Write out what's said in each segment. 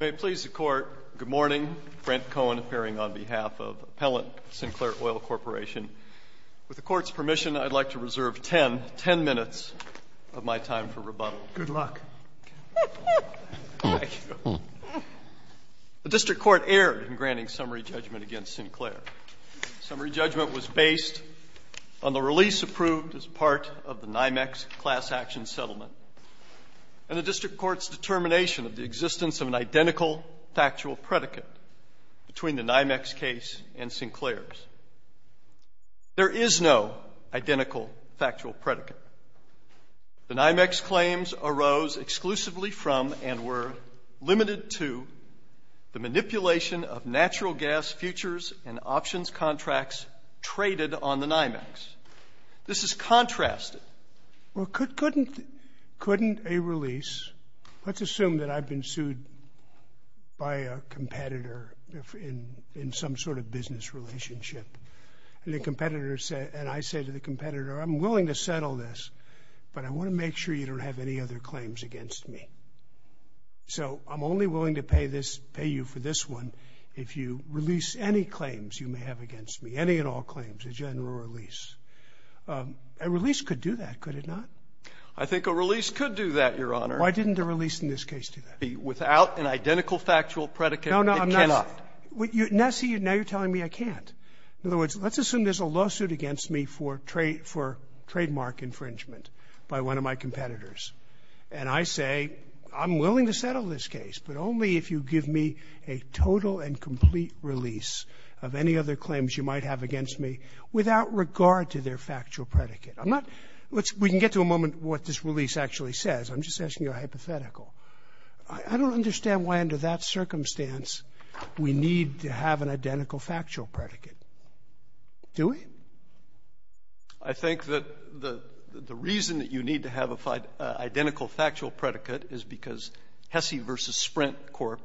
May it please the Court, good morning. Brent Cohen appearing on behalf of Appellant Sinclair Oil Corporation. With the Court's permission, I'd like to reserve ten minutes of my time for rebuttal. Good luck. The District Court erred in granting summary judgment against Sinclair. Summary judgment was based on the release approved as part of the NYMEX Class Action Settlement and the District Court's determination of the existence of an identical factual predicate between the NYMEX case and Sinclair's. There is no identical factual predicate. The NYMEX claims arose exclusively from and were limited to the manipulation of natural gas futures and options contracts traded on the NYMEX. This is contrasted. Well, couldn't a release, let's assume that I've been sued by a competitor in some sort of business relationship, and I say to the competitor, I'm willing to settle this, but I want to make sure you don't have any other claims against me. So I'm only willing to pay you for this one if you release any claims you may have against me, any and all claims, a general release. A release could do that, could it not? I think a release could do that, Your Honor. Why didn't a release in this case do that? Without an identical factual predicate, it cannot. No, no, I'm not. Nessie, now you're telling me I can't. In other words, let's assume there's a lawsuit against me for trademark infringement by one of my competitors, and I say I'm willing to settle this case, but only if you give me a total and complete release of any other claims you might have against me without regard to their factual predicate. We can get to a moment of what this release actually says. I'm just asking you a hypothetical. I don't understand why under that circumstance we need to have an identical factual predicate. Do we? I think that the reason that you need to have an identical factual predicate is because Hesse v. Sprint Corp.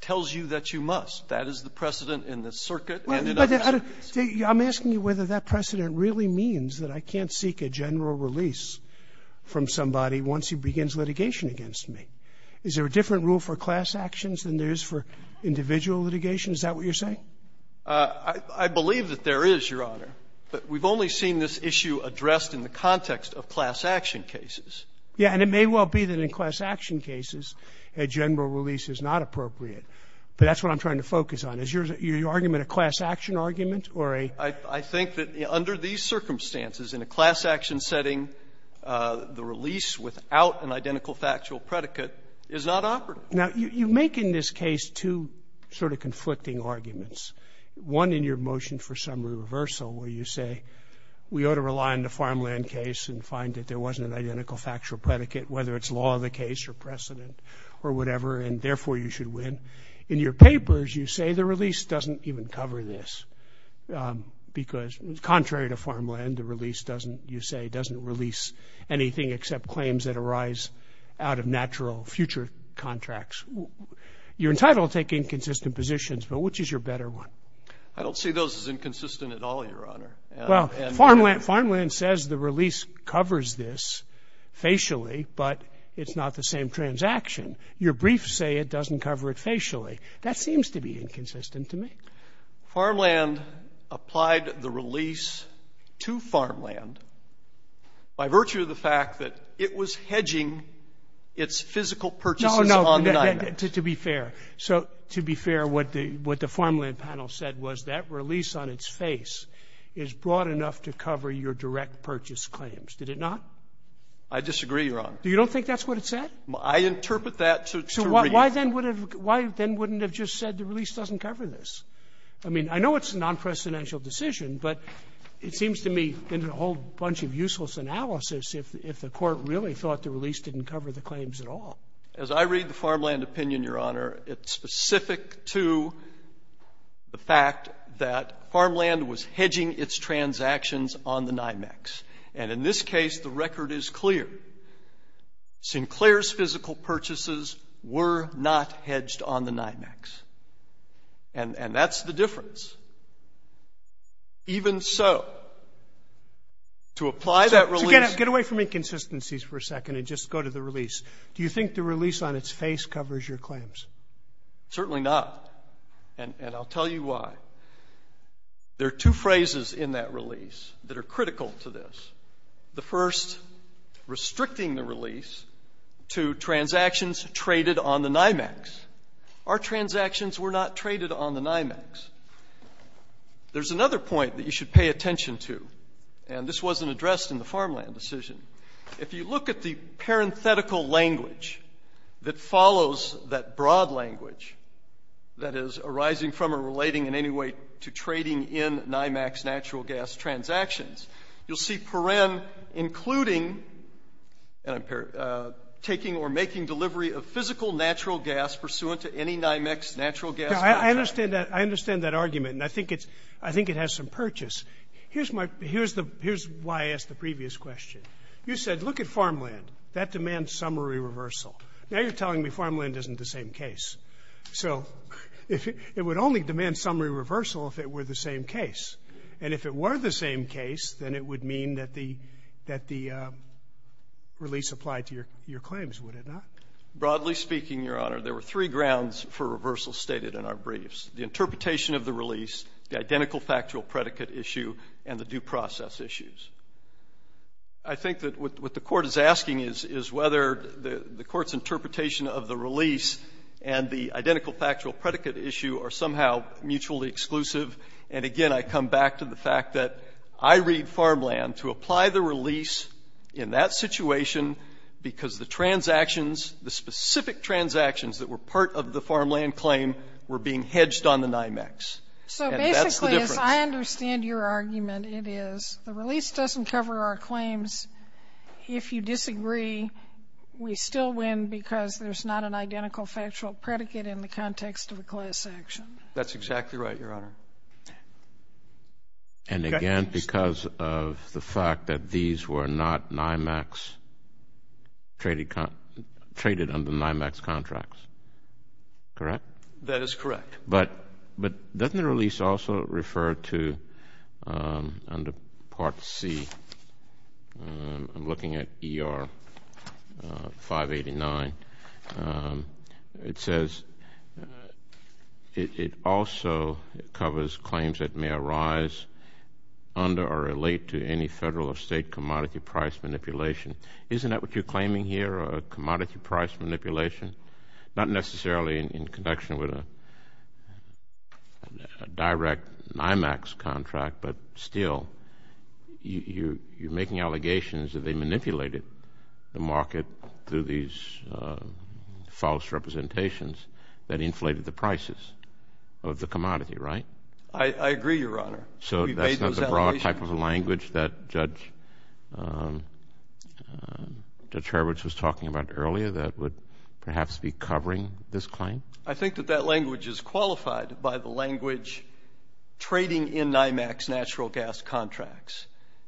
tells you that you must. That is the precedent in the circuit. I'm asking you whether that precedent really means that I can't seek a general release from somebody once he begins litigation against me. Is there a different rule for class actions than there is for individual litigation? Is that what you're saying? I believe that there is, Your Honor. But we've only seen this issue addressed in the context of class action cases. Yeah, and it may well be that in class action cases a general release is not appropriate. But that's what I'm trying to focus on. Is your argument a class action argument? I think that under these circumstances, in a class action setting, the release without an identical factual predicate is not operative. Now, you make in this case two sort of conflicting arguments. One, in your motion for summary reversal, where you say we ought to rely on the farmland case and find that there wasn't an identical factual predicate, whether it's law of the case or precedent or whatever, and therefore you should win. In your papers, you say the release doesn't even cover this because, contrary to farmland, the release, you say, doesn't release anything except claims that arise out of natural future contracts. You're entitled to take inconsistent positions, but which is your better one? I don't see those as inconsistent at all, Your Honor. Well, farmland says the release covers this facially, but it's not the same transaction. Your briefs say it doesn't cover it facially. That seems to be inconsistent to me. Farmland applied the release to farmland by virtue of the fact that it was hedging its physical purchases. No, no, to be fair. So to be fair, what the farmland panel said was that release on its face is broad enough to cover your direct purchase claims. Did it not? I disagree, Your Honor. You don't think that's what it said? I interpret that to agree. Why then wouldn't it have just said the release doesn't cover this? I mean, I know it's a non-precedential decision, but it seems to me a whole bunch of useless analysis if the court really thought the release didn't cover the claims at all. As I read the farmland opinion, Your Honor, it's specific to the fact that farmland was hedging its transactions on the NYMEX. And in this case, the record is clear. Sinclair's physical purchases were not hedged on the NYMEX. And that's the difference. Even so, to apply that release – Get away from inconsistencies for a second and just go to the release. Do you think the release on its face covers your claims? Certainly not, and I'll tell you why. There are two phrases in that release that are critical to this. The first restricting the release to transactions traded on the NYMEX. Our transactions were not traded on the NYMEX. There's another point that you should pay attention to, and this wasn't addressed in the farmland decision. If you look at the parenthetical language that follows that broad language that is arising from or relating in any way to trading in NYMEX natural gas transactions, you'll see PEREM including taking or making delivery of physical natural gas pursuant to any NYMEX natural gas contract. I understand that argument, and I think it has some purchase. Here's why I asked the previous question. You said, look at farmland. That demands summary reversal. Now you're telling me farmland isn't the same case. So it would only demand summary reversal if it were the same case. And if it were the same case, then it would mean that the release applied to your claims, would it not? Broadly speaking, Your Honor, there were three grounds for reversal stated in our briefs. The interpretation of the release, the identical factual predicate issue, and the due process issues. I think that what the Court is asking is whether the Court's interpretation of the release and the identical factual predicate issue are somehow mutually exclusive. And, again, I come back to the fact that I read farmland to apply the release in that situation because the transactions, the specific transactions that were part of the farmland claim were being hedged on the NYMEX. So basically, if I understand your argument, it is the release doesn't cover our claims. If you disagree, we still win because there's not an identical factual predicate in the context of the class action. That's exactly right, Your Honor. And, again, because of the fact that these were not NYMEX, traded under NYMEX contracts, correct? That is correct. But doesn't the release also refer to, under Part C, I'm looking at ER 589, it says it also covers claims that may arise under or relate to any federal or state commodity price manipulation. Isn't that what you're claiming here, a commodity price manipulation? Not necessarily in connection with a direct NYMEX contract, but still, you're making allegations that they manipulated the market through these false representations that inflated the prices of the commodity, right? So that's not the broad type of language that Judge Hurwitz was talking about earlier that would perhaps be covering this claim? I think that that language is qualified by the language trading in NYMEX natural gas contracts.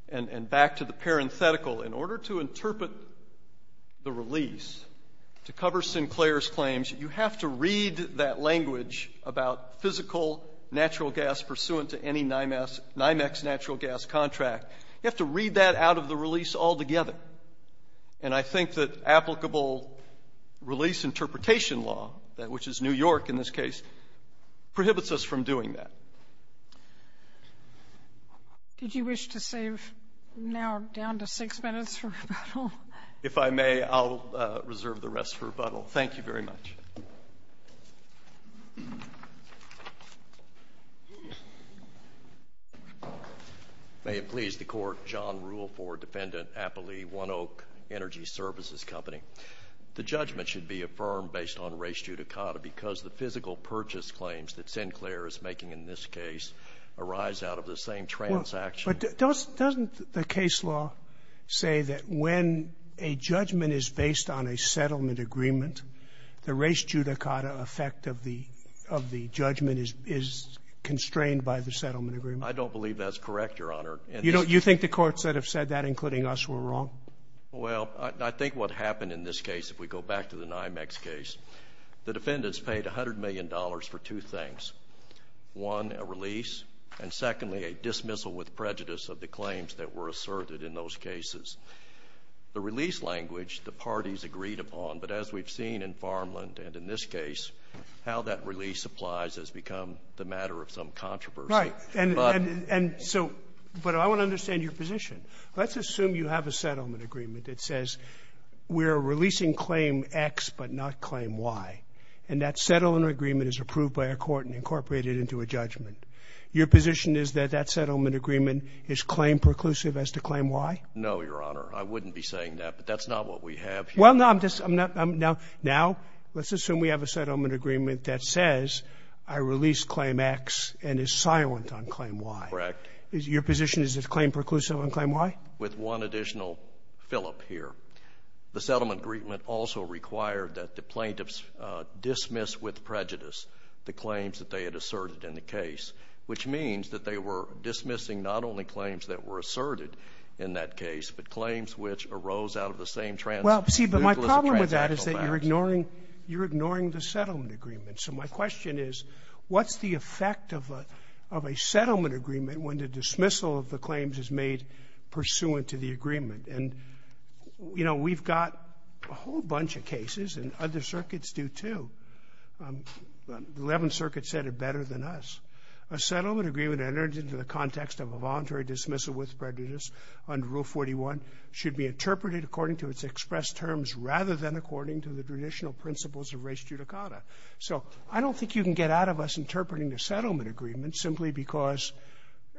And back to the parenthetical, in order to interpret the release, to cover Sinclair's claims, you have to read that language about physical natural gas pursuant to any NYMEX natural gas contract. You have to read that out of the release altogether. And I think that applicable release interpretation law, which is New York in this case, prohibits us from doing that. Did you wish to save now down to six minutes for rebuttal? If I may, I'll reserve the rest for rebuttal. Thank you very much. May it please the Court. John Ruleford, defendant, Appalee One Oak Energy Services Company. The judgment should be affirmed based on res judicata because the physical purchase claims that Sinclair is making in this case arise out of the same transaction. But doesn't the case law say that when a judgment is based on a settlement agreement, the res judicata effect of the judgment is constrained by the settlement agreement? I don't believe that's correct, Your Honor. You think the courts that have said that, including us, were wrong? Well, I think what happened in this case, if we go back to the NYMEX case, the defendants paid $100 million for two things. One, a release, and secondly, a dismissal with prejudice of the claims that were asserted in those cases. The release language the parties agreed upon, but as we've seen in Farmland and in this case, how that release applies has become the matter of some controversy. Right. But I want to understand your position. Let's assume you have a settlement agreement that says we're releasing claim X but not claim Y, and that settlement agreement is approved by a court and incorporated into a judgment. Your position is that that settlement agreement is claim preclusive as to claim Y? No, Your Honor. I wouldn't be saying that, but that's not what we have here. Well, now let's assume we have a settlement agreement that says I release claim X and is silent on claim Y. Correct. Your position is it's claim preclusive on claim Y? With one additional fillip here. The settlement agreement also required that the plaintiffs dismiss with prejudice the claims that they had asserted in the case, which means that they were dismissing not only claims that were asserted in that case, but claims which arose out of the same trans- Well, see, but my problem with that is that you're ignoring the settlement agreement. So my question is what's the effect of a settlement agreement when the dismissal of the claims is made pursuant to the agreement? And, you know, we've got a whole bunch of cases, and other circuits do, too. The Eleventh Circuit said it better than us. A settlement agreement entered into the context of a voluntary dismissal with prejudice under Rule 41 should be interpreted according to its expressed terms rather than according to the traditional principles of res judicata. So I don't think you can get out of us interpreting the settlement agreement simply because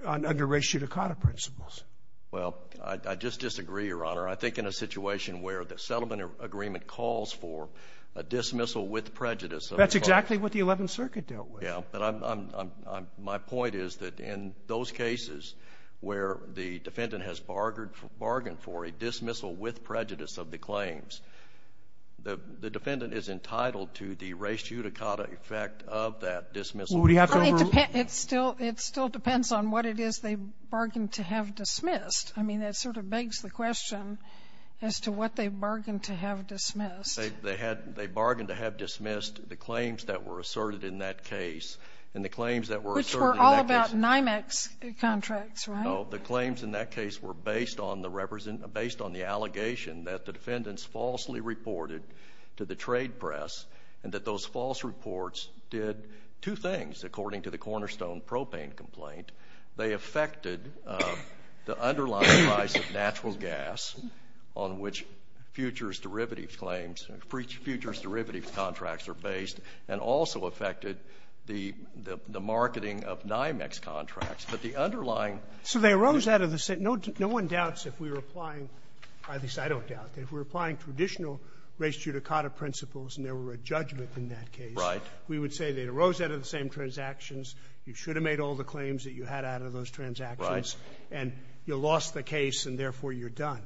under res judicata principles. Well, I just disagree, Your Honor. I think in a situation where the settlement agreement calls for a dismissal with prejudice- That's exactly what the Eleventh Circuit dealt with. Yeah, but my point is that in those cases where the defendant has bargained for a dismissal with prejudice of the claims, the defendant is entitled to the res judicata effect of that dismissal. It still depends on what it is they bargained to have dismissed. I mean, that sort of begs the question as to what they bargained to have dismissed. They bargained to have dismissed the claims that were asserted in that case, and the claims that were asserted- Which were all about NYMEX contracts, right? No, the claims in that case were based on the allegation that the defendants falsely reported to the trade press and that those false reports did two things. According to the cornerstone propane complaint, they affected the underlying price of natural gas on which futures derivatives claims and futures derivatives contracts are based and also affected the marketing of NYMEX contracts, but the underlying- So they rose out of the sand. No one doubts if we were applying- We would say they rose out of the same transactions. You should have made all the claims that you had out of those transactions, and you lost the case, and therefore you're done.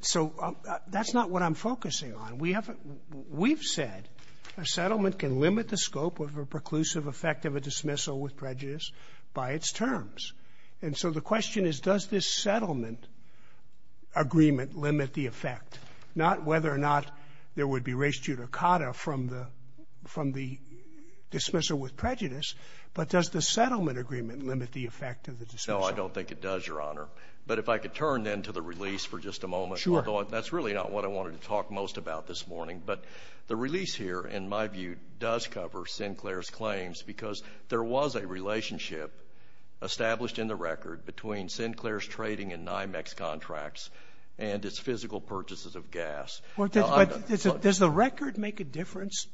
So that's not what I'm focusing on. We've said a settlement can limit the scope of a preclusive effect of a dismissal with prejudice by its terms, and so the question is does this settlement agreement limit the effect, not whether or not there would be res judicata from the dismissal with prejudice, but does the settlement agreement limit the effect of the dismissal? No, I don't think it does, Your Honor. But if I could turn then to the release for just a moment. Sure. That's really not what I wanted to talk most about this morning, but the release here, in my view, does cover Sinclair's claims because there was a relationship established in the record between Sinclair's trading in NYMEX contracts and his physical purchases of gas. But does the record make a difference?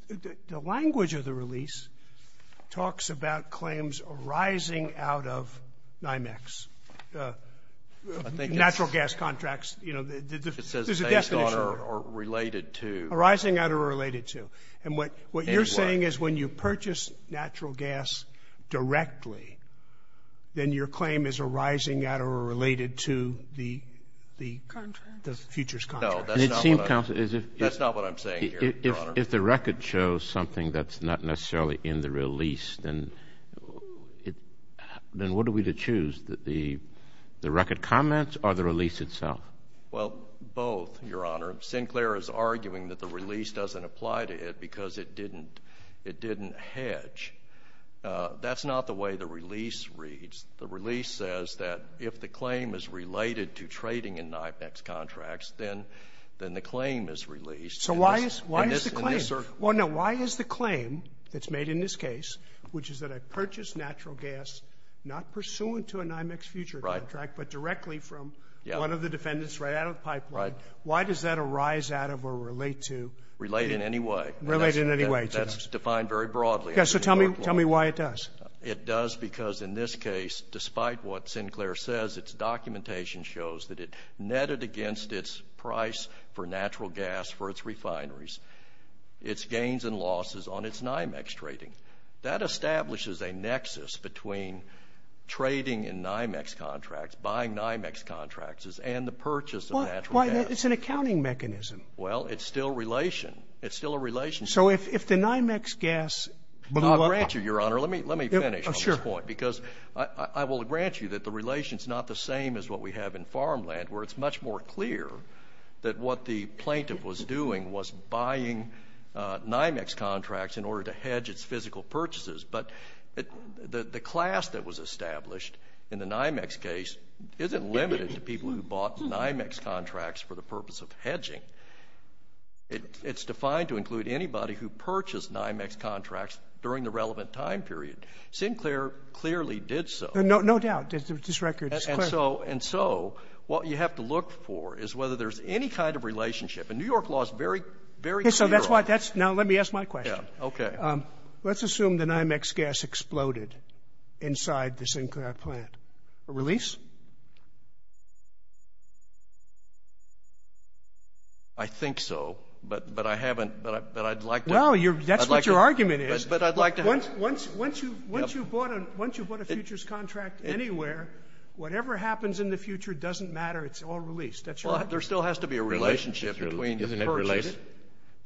The language of the release talks about claims arising out of NYMEX, natural gas contracts. It says based on or related to. Arising out or related to. And what you're saying is when you purchase natural gas directly, then your claim is arising out or related to the futures contract. No, that's not what I'm saying here, Your Honor. If the record shows something that's not necessarily in the release, then what are we to choose, the record comments or the release itself? Well, both, Your Honor. Sinclair is arguing that the release doesn't apply to it because it didn't hedge. That's not the way the release reads. The release says that if the claim is related to trading in NYMEX contracts, then the claim is released. So why is the claim? Well, no, why is the claim that's made in this case, which is that I purchased natural gas not pursuant to a NYMEX futures contract but directly from one of the defendants right out of the pipeline, why does that arise out of or relate to? Relate in any way. Relate in any way. That's defined very broadly. Yeah, so tell me why it does. It does because in this case, despite what Sinclair says, its documentation shows that it netted against its price for natural gas for its refineries its gains and losses on its NYMEX trading. That establishes a nexus between trading in NYMEX contracts, buying NYMEX contracts, and the purchase of natural gas. It's an accounting mechanism. Well, it's still a relation. It's still a relation. So if the NYMEX gas— I'll grant you, Your Honor, let me finish on this point because I will grant you that the relation is not the same as what we have in farmland where it's much more clear that what the plaintiff was doing was buying NYMEX contracts in order to hedge its physical purchases. But the class that was established in the NYMEX case isn't limited to people who bought NYMEX contracts for the purpose of hedging. It's defined to include anybody who purchased NYMEX contracts during the relevant time period. Sinclair clearly did so. No doubt. This record is clear. And so what you have to look for is whether there's any kind of relationship. And New York law is very clear on that. Now let me ask my question. Okay. Let's assume that NYMEX gas exploded inside the Sinclair plant. A release? I think so, but I haven't—but I'd like to— No, that's what your argument is. But I'd like to have— Once you've bought a futures contract anywhere, whatever happens in the future doesn't matter. It's all released. That's your argument. Well, there still has to be a relationship between the purchases.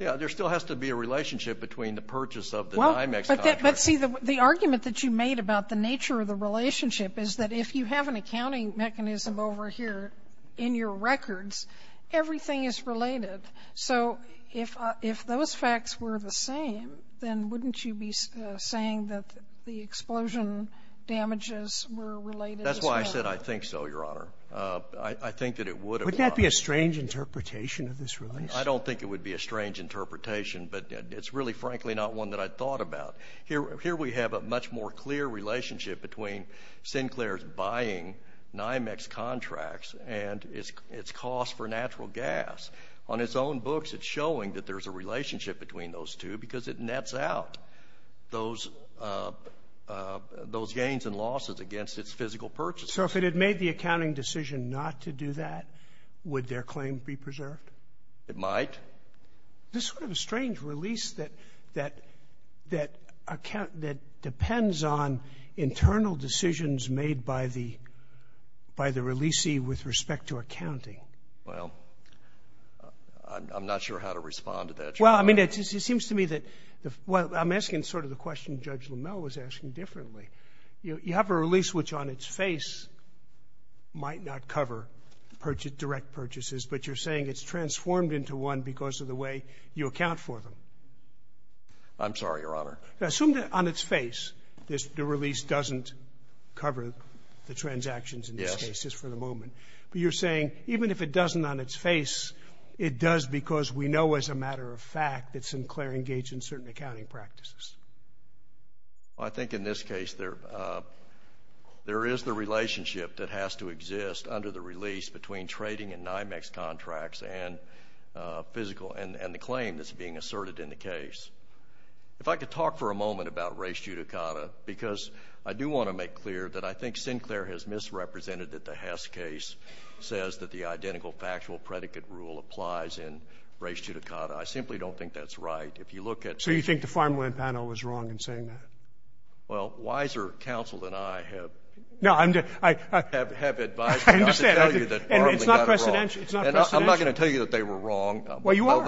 Yeah, there still has to be a relationship between the purchase of the NYMEX contract— But see, the argument that you made about the nature of the relationship is that if you have an accounting mechanism over here in your records, everything is related. So if those facts were the same, then wouldn't you be saying that the explosion damages were related as well? That's why I said I think so, Your Honor. I think that it would have— Wouldn't that be a strange interpretation of this release? I don't think it would be a strange interpretation, but it's really, frankly, not one that I'd thought about. Here we have a much more clear relationship between Sinclair's buying NYMEX contracts and its cost for natural gas. On its own books, it's showing that there's a relationship between those two because it nets out those gains and losses against its physical purchase. So if it had made the accounting decision not to do that, would their claim be preserved? It might. This is sort of a strange release that depends on internal decisions made by the releasee with respect to accounting. Well, I'm not sure how to respond to that, Your Honor. Well, I mean, it seems to me that— I'm asking sort of the question Judge Lamel was asking differently. You have a release which on its face might not cover direct purchases, but you're saying it's transformed into one because of the way you account for them. I'm sorry, Your Honor. Assume that on its face the release doesn't cover the transactions in this case, just for the moment. But you're saying even if it doesn't on its face, it does because we know as a matter of fact that Sinclair engaged in certain accounting practices. under the release between trading and NYMEX contracts and the claim that's being asserted in the case. If I could talk for a moment about res judicata, because I do want to make clear that I think Sinclair has misrepresented that the Hess case says that the identical factual predicate rule applies in res judicata. I simply don't think that's right. So you think the farmland panel is wrong in saying that? Well, wiser counsel than I have— No, I'm just— I have advice. I understand. And it's not presidential. I'm not going to tell you that they were wrong. Well, you are.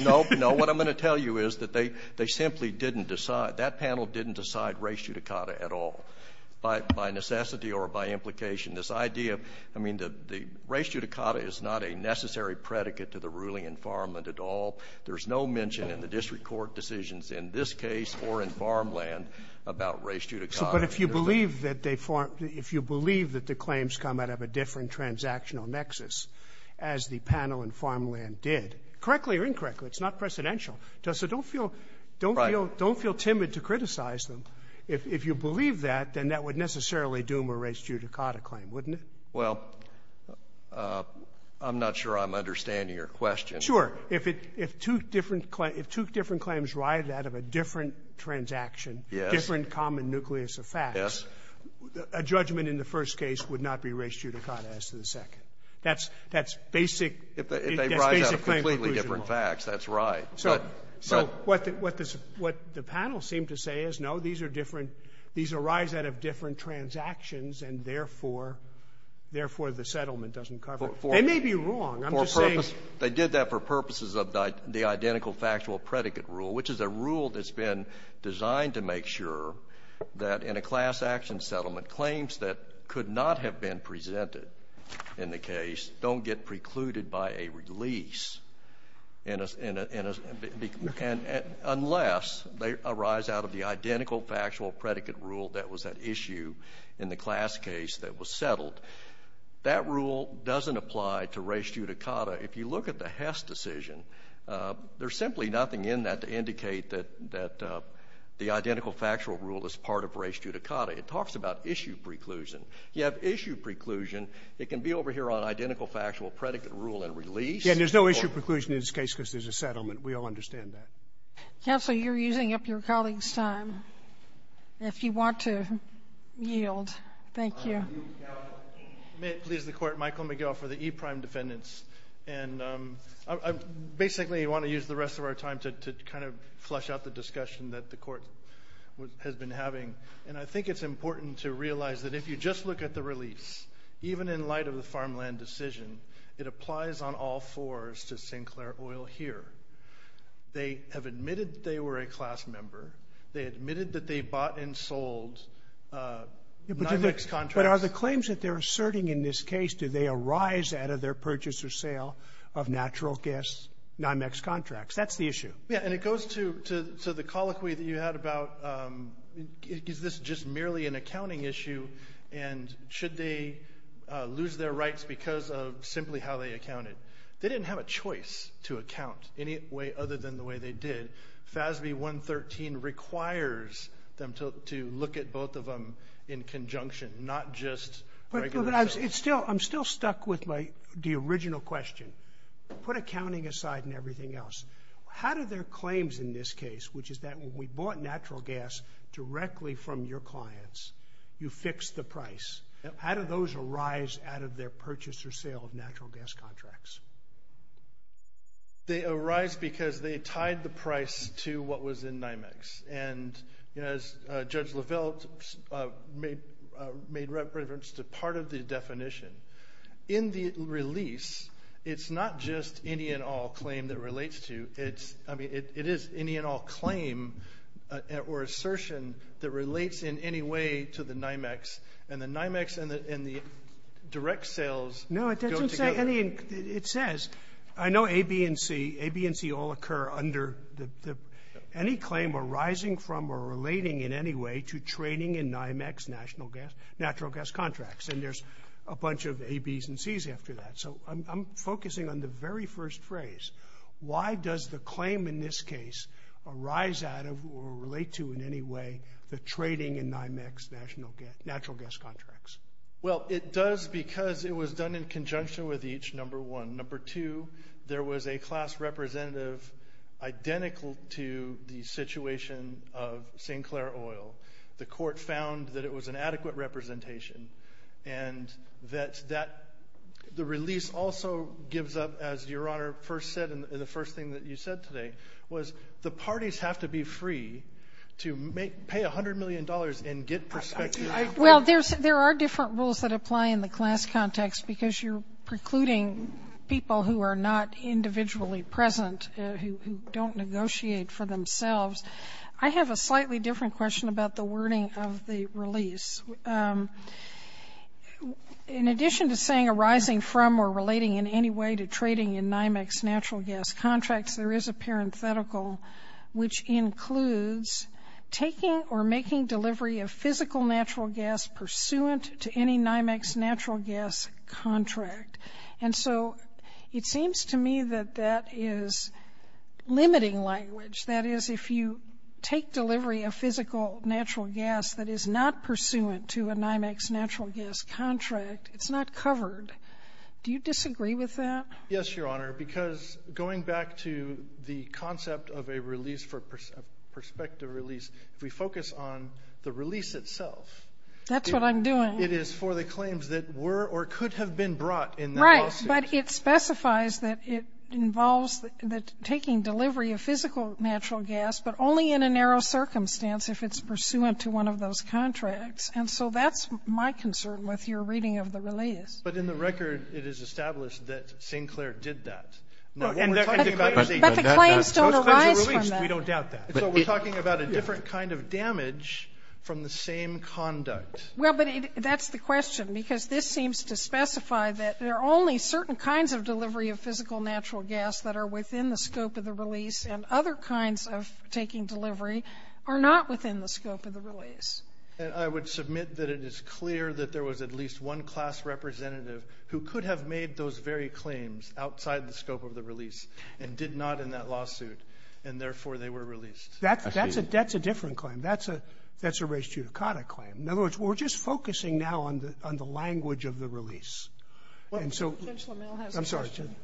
No, no. What I'm going to tell you is that they simply didn't decide. That panel didn't decide res judicata at all by necessity or by implication. This idea, I mean, the res judicata is not a necessary predicate to the ruling in farmland at all. There's no mention in the district court decisions in this case or in farmland about res judicata. But if you believe that the claims come out of a different transactional nexus, as the panel in farmland did, correctly or incorrectly, it's not presidential. So don't feel timid to criticize them. If you believe that, then that would necessarily doom a res judicata claim, wouldn't it? Well, I'm not sure I'm understanding your question. Sure. If two different claims arrive out of a different transaction, different common nucleus of facts, a judgment in the first case would not be res judicata as to the second. That's basic. If they arrive out of completely different facts, that's right. So what the panel seemed to say is, no, these arise out of different transactions, and therefore the settlement doesn't cover it. They may be wrong. They did that for purposes of the identical factual predicate rule, which is a rule that's been designed to make sure that in a class action settlement, claims that could not have been presented in the case don't get precluded by a release, unless they arise out of the identical factual predicate rule that was at issue in the class case that was settled. That rule doesn't apply to res judicata. If you look at the Hess decision, there's simply nothing in that to indicate that the identical factual rule is part of res judicata. It talks about issue preclusion. You have issue preclusion. It can be over here on identical factual predicate rule and release. Yeah, and there's no issue preclusion in this case because there's a settlement. We all understand that. Counsel, you're using up your colleague's time. If you want to yield. Thank you. May it please the Court, Michael McGill for the e-prime defendants. And I basically want to use the rest of our time to kind of flush out the discussion that the Court has been having. And I think it's important to realize that if you just look at the release, even in light of the farmland decision, it applies on all fours to Sinclair Oil here. They have admitted they were a class member. They admitted that they bought and sold non-mixed contracts. But are the claims that they're asserting in this case, did they arise out of their purchase or sale of natural gas non-mixed contracts? That's the issue. Yeah, and it goes to the colloquy that you had about is this just merely an accounting issue and should they lose their rights because of simply how they accounted. They didn't have a choice to account any way other than the way they did. FASB 113 requires them to look at both of them in conjunction, not just regular. But I'm still stuck with the original question. Put accounting aside and everything else. How did their claims in this case, which is that we bought natural gas directly from your clients, you fixed the price. How did those arise out of their purchase or sale of natural gas contracts? They arise because they tied the price to what was in NYMEX. And as Judge Levelle made reference to part of the definition, in the release, it's not just any and all claim that relates to it. I mean, it is any and all claim or assertion that relates in any way to the NYMEX. And the NYMEX and the direct sales go together. It says, I know A, B, and C all occur under any claim arising from or relating in any way to trading in NYMEX natural gas contracts. And there's a bunch of A, B's and C's after that. So I'm focusing on the very first phrase. Why does the claim in this case arise out of or relate to in any way the trading in NYMEX natural gas contracts? Well, it does because it was done in conjunction with each, number one. Number two, there was a class representative identical to the situation of St. Clair Oil. The court found that it was an adequate representation and that the release also gives up, as Your Honor first said, and the first thing that you said today, was the parties have to be free to pay $100 million and get perspective. Well, there are different rules that apply in the class context because you're precluding people who are not individually present, who don't negotiate for themselves. I have a slightly different question about the wording of the release. In addition to saying arising from or relating in any way to trading in NYMEX natural gas contracts, there is a parenthetical which includes taking or making delivery of physical natural gas pursuant to any NYMEX natural gas contract. And so it seems to me that that is limiting language. That is, if you take delivery of physical natural gas that is not pursuant to a NYMEX natural gas contract, it's not covered. Do you disagree with that? Yes, Your Honor, because going back to the concept of a perspective release, we focus on the release itself. That's what I'm doing. It is for the claims that were or could have been brought in the lawsuit. Right, but it specifies that it involves taking delivery of physical natural gas but only in a narrow circumstance if it's pursuant to one of those contracts. And so that's my concern with your reading of the release. But in the record, it is established that St. Clair did that. But the claims don't arise from that. We don't doubt that. So we're talking about a different kind of damage from the same conduct. Well, but that's the question because this seems to specify that there are only certain kinds of delivery of physical natural gas that are within the scope of the release and other kinds of taking delivery are not within the scope of the release. And I would submit that it is clear that there was at least one class representative who could have made those very claims outside the scope of the release and did not in that lawsuit, and therefore they were released. That's a different claim. That's a res judicata claim. In other words, we're just focusing now on the language of the release. Judge Lamel has a question.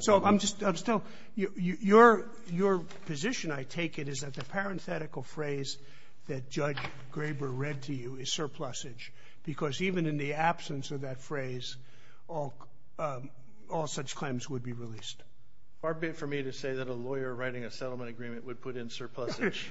So your position, I take it, is that the parenthetical phrase that Judge Graber read to you is surplusage. Because even in the absence of that phrase, all such claims would be released. Far be it for me to say that a lawyer writing a settlement agreement would put in surplusage.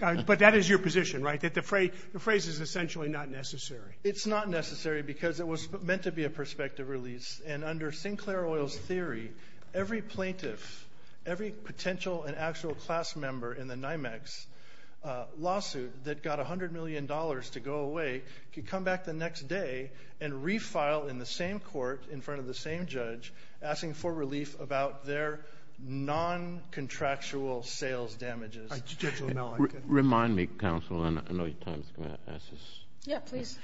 But that is your position, right? That the phrase is essentially not necessary. It's not necessary because it was meant to be a prospective release. And under Sinclair Oil's theory, every plaintiff, every potential and actual class member in the NYMEX lawsuit that got $100 million to go away could come back the next day and refile in the same court in front of the same judge asking for relief about their non-contractual sales damages. Remind me, counsel, and I know you have time for that. Yeah, please.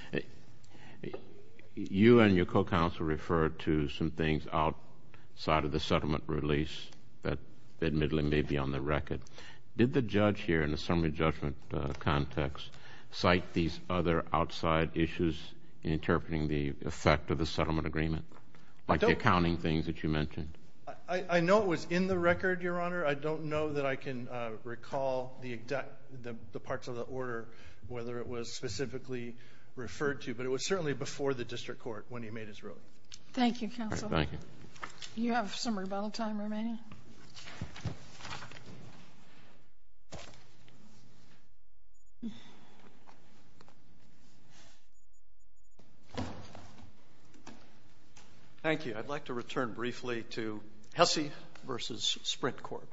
You and your co-counsel referred to some things outside of the settlement release that admittedly may be on the record. Did the judge here in the summary judgment context cite these other outside issues in interpreting the effect of the settlement agreement? Like the accounting things that you mentioned? I know it was in the record, Your Honor. I don't know that I can recall the parts of the order, whether it was specifically referred to. But it was certainly before the district court when he made his ruling. Thank you, counsel. Do you have some rebuttal time remaining? Thank you. I'd like to return briefly to Hesse v. Sprint Court.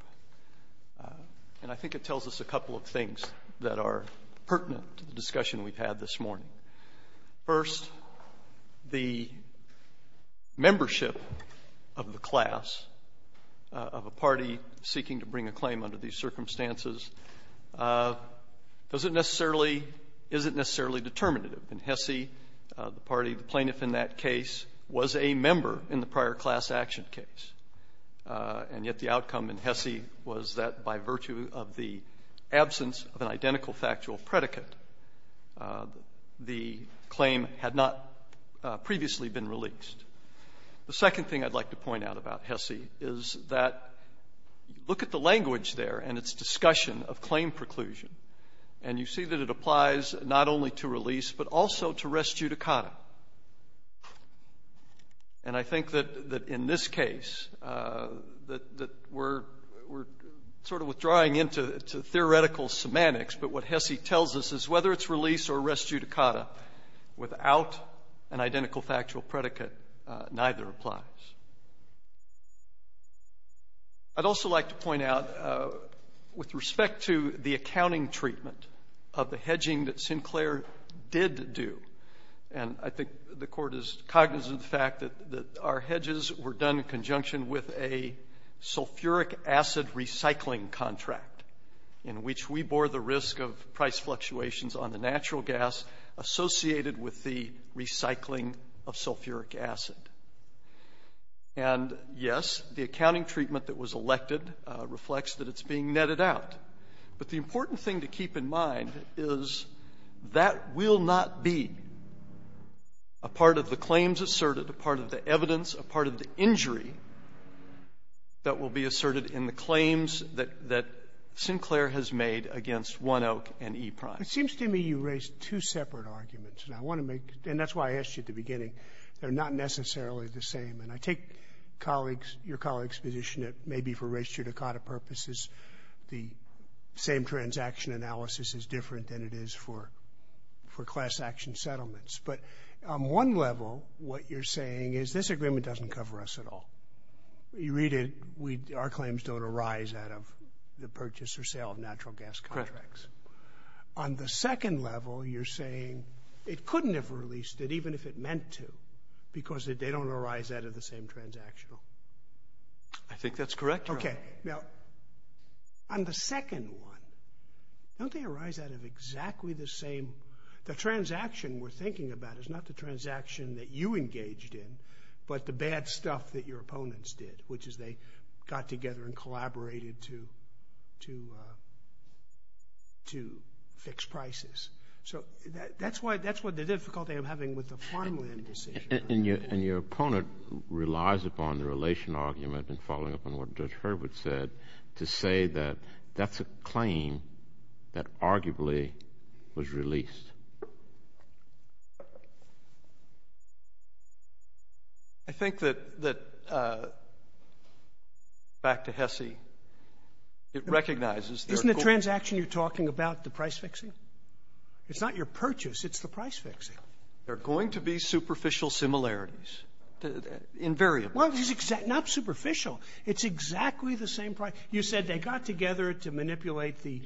And I think it tells us a couple of things that are pertinent to the discussion we've had this morning. First, the membership of the class, of a party seeking to bring a claim under these circumstances, isn't necessarily determinative. In Hesse, the plaintiff in that case was a member in the prior class action case. And yet the outcome in Hesse was that by virtue of the absence of an identical factual predicate, the claim had not previously been released. The second thing I'd like to point out about Hesse is that look at the language there and its discussion of claim preclusion. And you see that it applies not only to release but also to res judicata. And I think that in this case that we're sort of withdrawing into theoretical semantics, but what Hesse tells us is whether it's release or res judicata, without an identical factual predicate, neither applies. I'd also like to point out with respect to the accounting treatment of the hedging that Sinclair did do, and I think the court is cognizant of the fact that our hedges were done in conjunction with a sulfuric acid recycling contract in which we bore the risk of price fluctuations on the natural gas associated with the recycling of sulfuric acid. And yes, the accounting treatment that was elected reflects that it's being netted out. But the important thing to keep in mind is that will not be a part of the claims asserted, a part of the evidence, a part of the injury that will be asserted in the claims that Sinclair has made against One Oak and E-Prime. It seems to me you raised two separate arguments, and that's why I asked you at the beginning. They're not necessarily the same. And I take your colleagues' position that maybe for res judicata purposes, the same transaction analysis is different than it is for class action settlements. But on one level, what you're saying is this agreement doesn't cover us at all. You read it, our claims don't arise out of the purchase or sale of natural gas contracts. On the second level, you're saying it couldn't have released it even if it meant to because they don't arise out of the same transaction. I think that's correct. Okay. Now, on the second one, don't they arise out of exactly the same? The transaction we're thinking about is not the transaction that you engaged in, but the bad stuff that your opponents did, which is they got together and collaborated to fix prices. So that's what the difficulty of having with the prime would be. And your opponent relies upon the relational argument and following up on what Judge Herbert said to say that that's a claim that arguably was released. I think that, back to Hesse, it recognizes that— It's not your purchase, it's the price fixing. There are going to be superficial similarities, invariably. Well, not superficial. It's exactly the same— You said they got together to manipulate the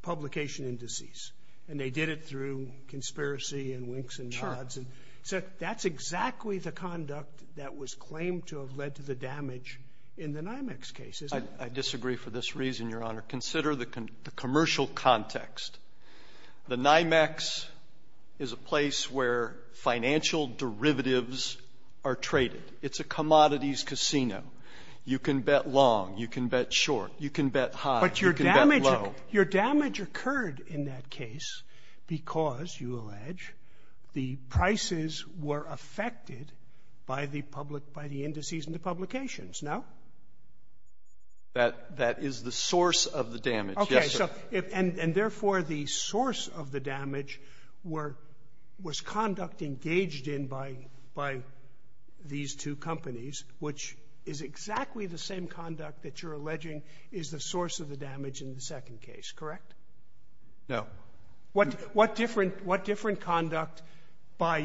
publication indices, and they did it through conspiracy and winks and nods. Sure. So that's exactly the conduct that was claimed to have led to the damage in the NYMEX cases. I disagree for this reason, Your Honor. Consider the commercial context. The NYMEX is a place where financial derivatives are traded. It's a commodities casino. You can bet long, you can bet short, you can bet high, you can bet low. But your damage occurred in that case because, you allege, the prices were affected by the indices in the publications, no? That is the source of the damage, yes, sir. Okay, and therefore the source of the damage was conduct engaged in by these two companies, which is exactly the same conduct that you're alleging is the source of the damage in the second case, correct? No. What different conduct by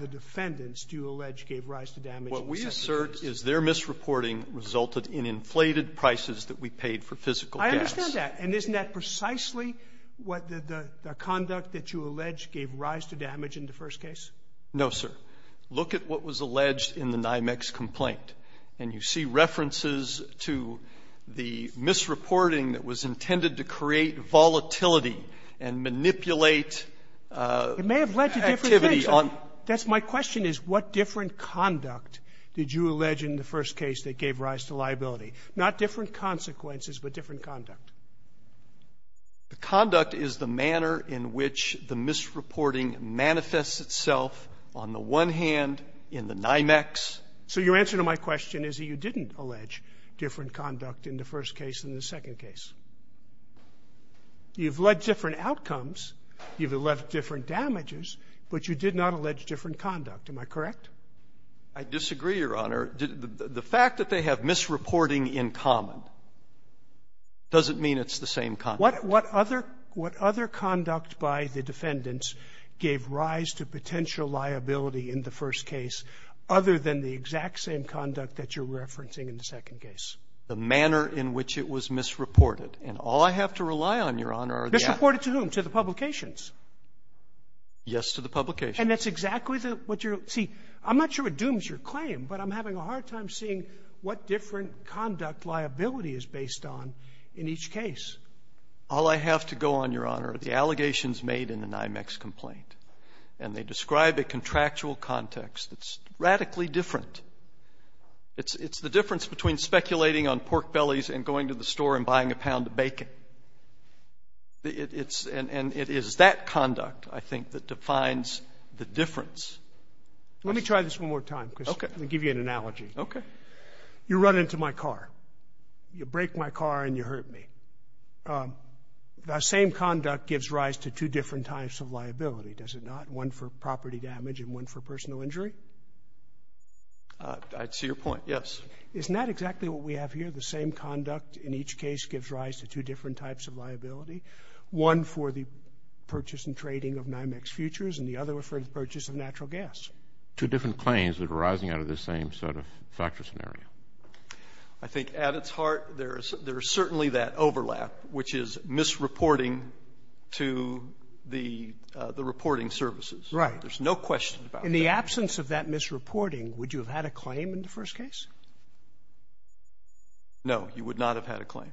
the defendants do you allege gave rise to damage in the second case? What we assert is their misreporting resulted in inflated prices that we paid for physical damage. I understand that. And isn't that precisely what the conduct that you allege gave rise to damage in the first case? No, sir. Look at what was alleged in the NYMEX complaint, and you see references to the misreporting that was intended to create volatility and manipulate activity. My question is, what different conduct did you allege in the first case that gave rise to liability? Not different consequences, but different conduct. The conduct is the manner in which the misreporting manifests itself on the one hand in the NYMEX. So your answer to my question is that you didn't allege different conduct in the first case and the second case. You've alleged different outcomes. You've alleged different damages. But you did not allege different conduct. Am I correct? I disagree, Your Honor. The fact that they have misreporting in common doesn't mean it's the same conduct. What other conduct by the defendants gave rise to potential liability in the first case other than the exact same conduct that you're referencing in the second case? The manner in which it was misreported. And all I have to rely on, Your Honor, are the… Misreported to whom? To the publications? Yes, to the publications. And that's exactly what you're… See, I'm not sure it dooms your claim, but I'm having a hard time seeing what different conduct liability is based on in each case. All I have to go on, Your Honor, are the allegations made in the NYMEX complaint. And they describe a contractual context that's radically different. It's the difference between speculating on pork bellies and going to the store and buying a pound of bacon. And it is that conduct, I think, that defines the difference. Let me try this one more time because I'm going to give you an analogy. Okay. You run into my car. You break my car and you hurt me. That same conduct gives rise to two different types of liability, does it not? One for property damage and one for personal injury? I see your point, yes. Is not exactly what we have here, the same conduct in each case, gives rise to two different types of liability? One for the purchase and trading of NYMEX futures and the other for the purchase of natural gas? Two different claims that are arising out of the same set of factors and areas. I think at its heart, there is certainly that overlap, which is misreporting to the reporting services. Right. There's no question about that. In the absence of that misreporting, would you have had a claim in the first case? No, you would not have had a claim.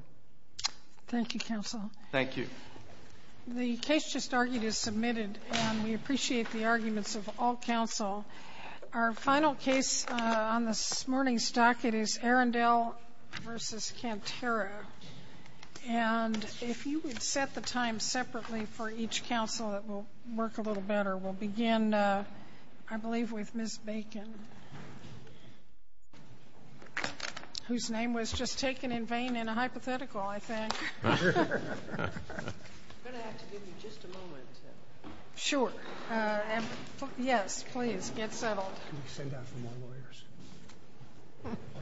Thank you, counsel. Thank you. The case just argued is submitted, and we appreciate the arguments of all counsel. Our final case on this morning's docket is Arendelle v. Camp Shiro. If you would set the time separately for each counsel, it will work a little better. We'll begin, I believe, with Ms. Bacon, whose name was just taken in vain in a hypothetical, I think. I'm going to have to give you just a moment. Sure. Yes, please, get settled. I'm going to send out some more lawyers. Thank you. Thank you. Thank you.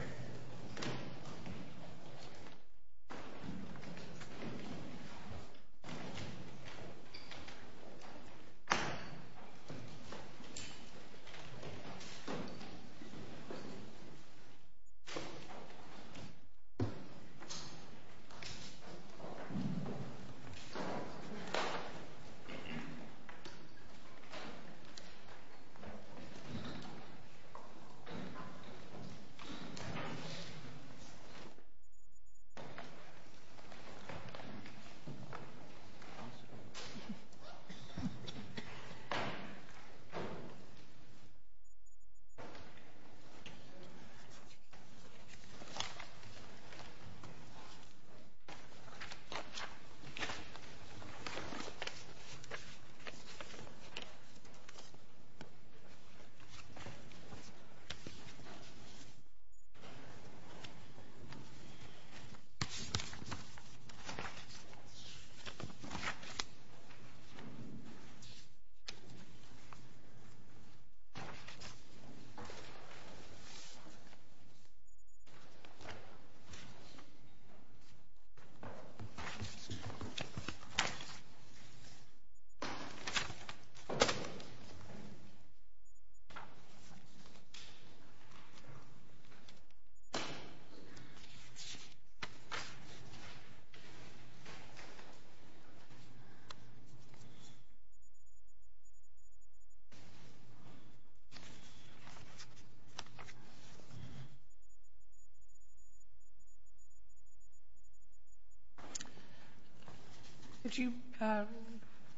Would you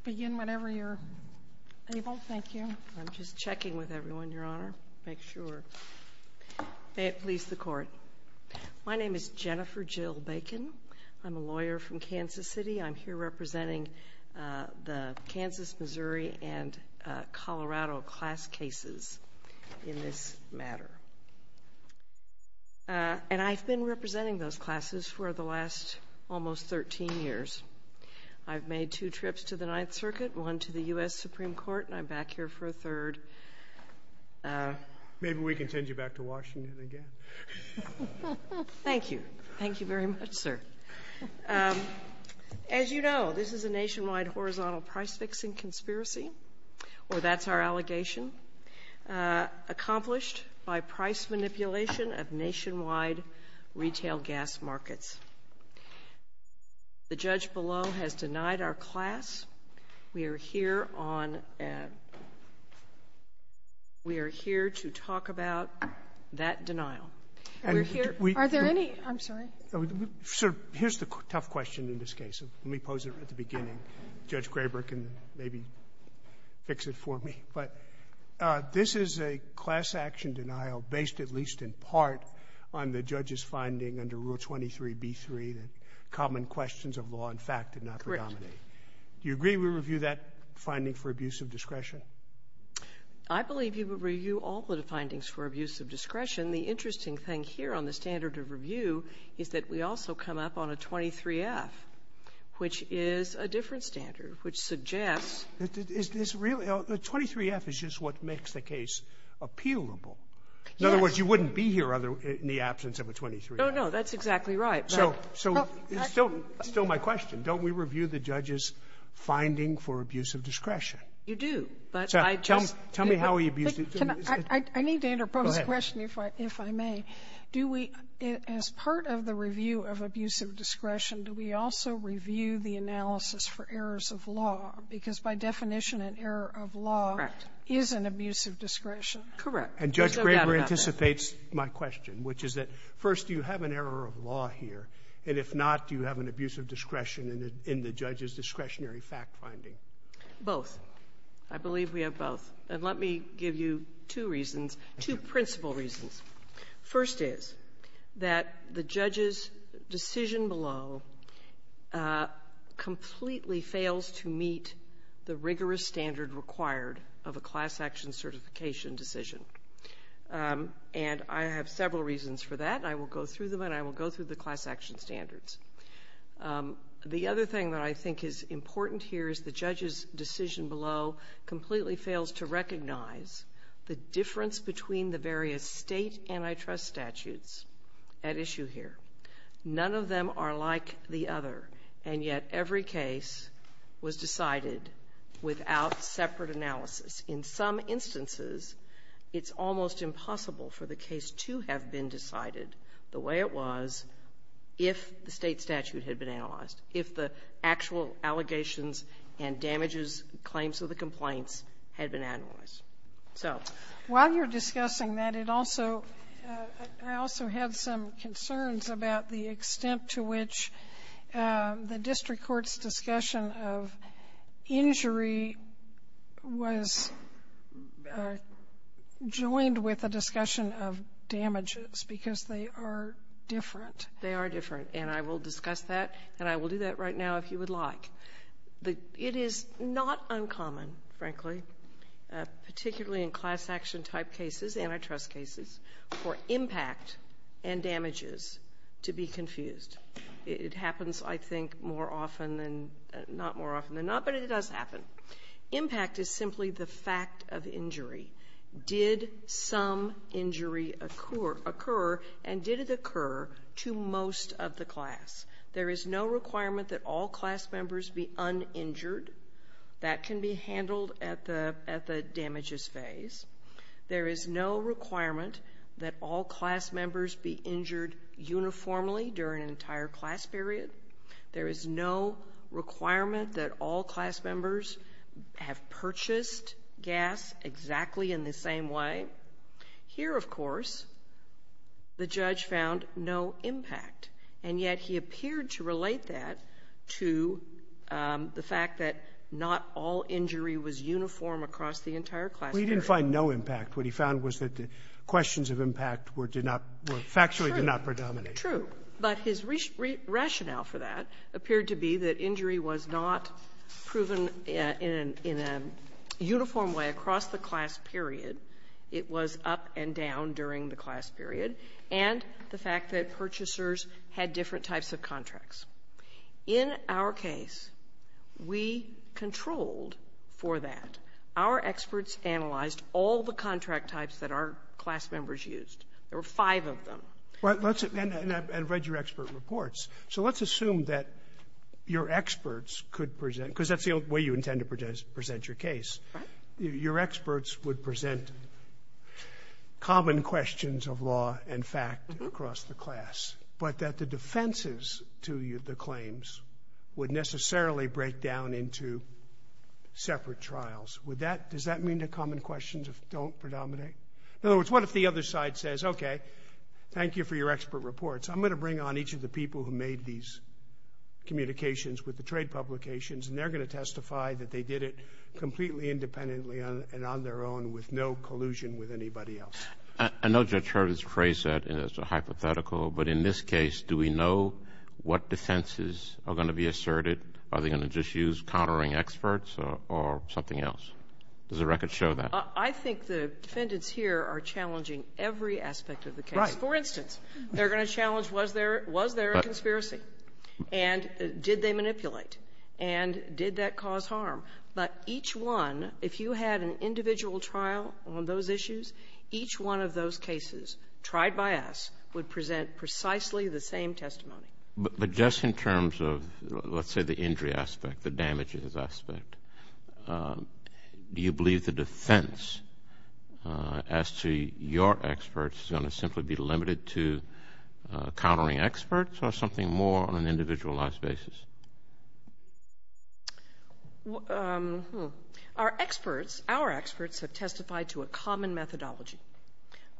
begin whenever you're able? Thank you. I'm just checking with everyone, Your Honor, to make sure it leaves the court. My name is Jennifer Jill Bacon. I'm a lawyer from Kansas City. I'm here representing the Kansas, Missouri, and Colorado class cases in this matter. And I've been representing those classes for the last almost 13 years. I've made two trips to the Ninth Circuit, one to the U.S. Supreme Court, and I'm back here for a third. Maybe we can send you back to Washington again. Thank you. Thank you very much, sir. As you know, this is a nationwide horizontal price-fixing conspiracy, or that's our allegation, accomplished by price manipulation of nationwide retail gas markets. The judge below has denied our class. We are here to talk about that denial. Are there any? I'm sorry. Sir, here's the tough question in this case. Let me pose it at the beginning. Judge Graber can maybe fix it for me. But this is a class-action denial based at least in part on the judge's finding under Rule 23b3 that common questions of law and fact did not predominate. Do you agree we review that finding for abuse of discretion? I believe you would review all the findings for abuse of discretion. The interesting thing here on the standard of review is that we also come up on a 23f, which is a different standard, which suggests the 23f is just what makes the case appealable. In other words, you wouldn't be here in the absence of a 23f. No, no, that's exactly right. It's still my question. Don't we review the judge's finding for abuse of discretion? You do. Tell me how he abused it. I need to interpose the question, if I may. As part of the review of abuse of discretion, do we also review the analysis for errors of law? Because by definition, an error of law is an abuse of discretion. Correct. And Judge Graber anticipates my question, which is that first, you have an error of law here. And if not, do you have an abuse of discretion in the judge's discretionary fact finding? Both. I believe we have both. And let me give you two reasons, two principal reasons. First is that the judge's decision below completely fails to meet the rigorous standard required of a class action certification decision. And I have several reasons for that. I will go through them and I will go through the class action standards. The other thing that I think is important here is the judge's decision below completely fails to recognize the difference between the various state antitrust statutes at issue here. None of them are like the other. And yet every case was decided without separate analysis. In some instances, it's almost impossible for the case to have been decided the way it was if the state statute had been analyzed, if the actual allegations and damages claims to the complaint had been analyzed. While you're discussing that, I also have some concerns about the extent to which the district court's discussion of injury was joined with a discussion of damages because they are different. They are different. And I will discuss that and I will do that right now if you would like. It is not uncommon, frankly, particularly in class action type cases, antitrust cases, for impact and damages to be confused. It happens, I think, more often than not, but it does happen. Impact is simply the fact of injury. Did some injury occur and did it occur to most of the class? There is no requirement that all class members be uninjured. That can be handled at the damages phase. There is no requirement that all class members be injured uniformly during an entire class period. There is no requirement that all class members have purchased gas exactly in the same way. Here, of course, the judge found no impact. And yet he appeared to relate that to the fact that not all injury was uniform across the entire class period. He didn't find no impact. What he found was that the questions of impact were factually not predominant. True. But his rationale for that appeared to be that injury was not proven in a uniform way across the class period. It was up and down during the class period. And the fact that purchasers had different types of contracts. In our case, we controlled for that. Our experts analyzed all the contract types that our class members used. There were five of them. And I've read your expert reports. So let's assume that your experts could present, because that's the way you intend to present your case, your experts would present common questions of law and fact across the class, but that the defenses to the claims would necessarily break down into separate trials. Does that mean that common questions don't predominate? In other words, what if the other side says, okay, thank you for your expert reports. I'm going to bring on each of the people who made these communications with the trade publications, and they're going to testify that they did it completely independently and on their own with no collusion with anybody else. I know Judge Harvey's phrase that is hypothetical, but in this case, do we know what defenses are going to be asserted? Are they going to just use countering experts or something else? Does the record show that? I think the defendants here are challenging every aspect of the case. For instance, they're going to challenge was there a conspiracy, and did they manipulate, and did that cause harm. But each one, if you had an individual trial on those issues, each one of those cases tried by us would present precisely the same testimony. But just in terms of, let's say, the injury aspect, the damage aspect, do you believe the defense as to your experts is going to simply be limited to countering experts or something more on an individualized basis? Our experts have testified to a common methodology.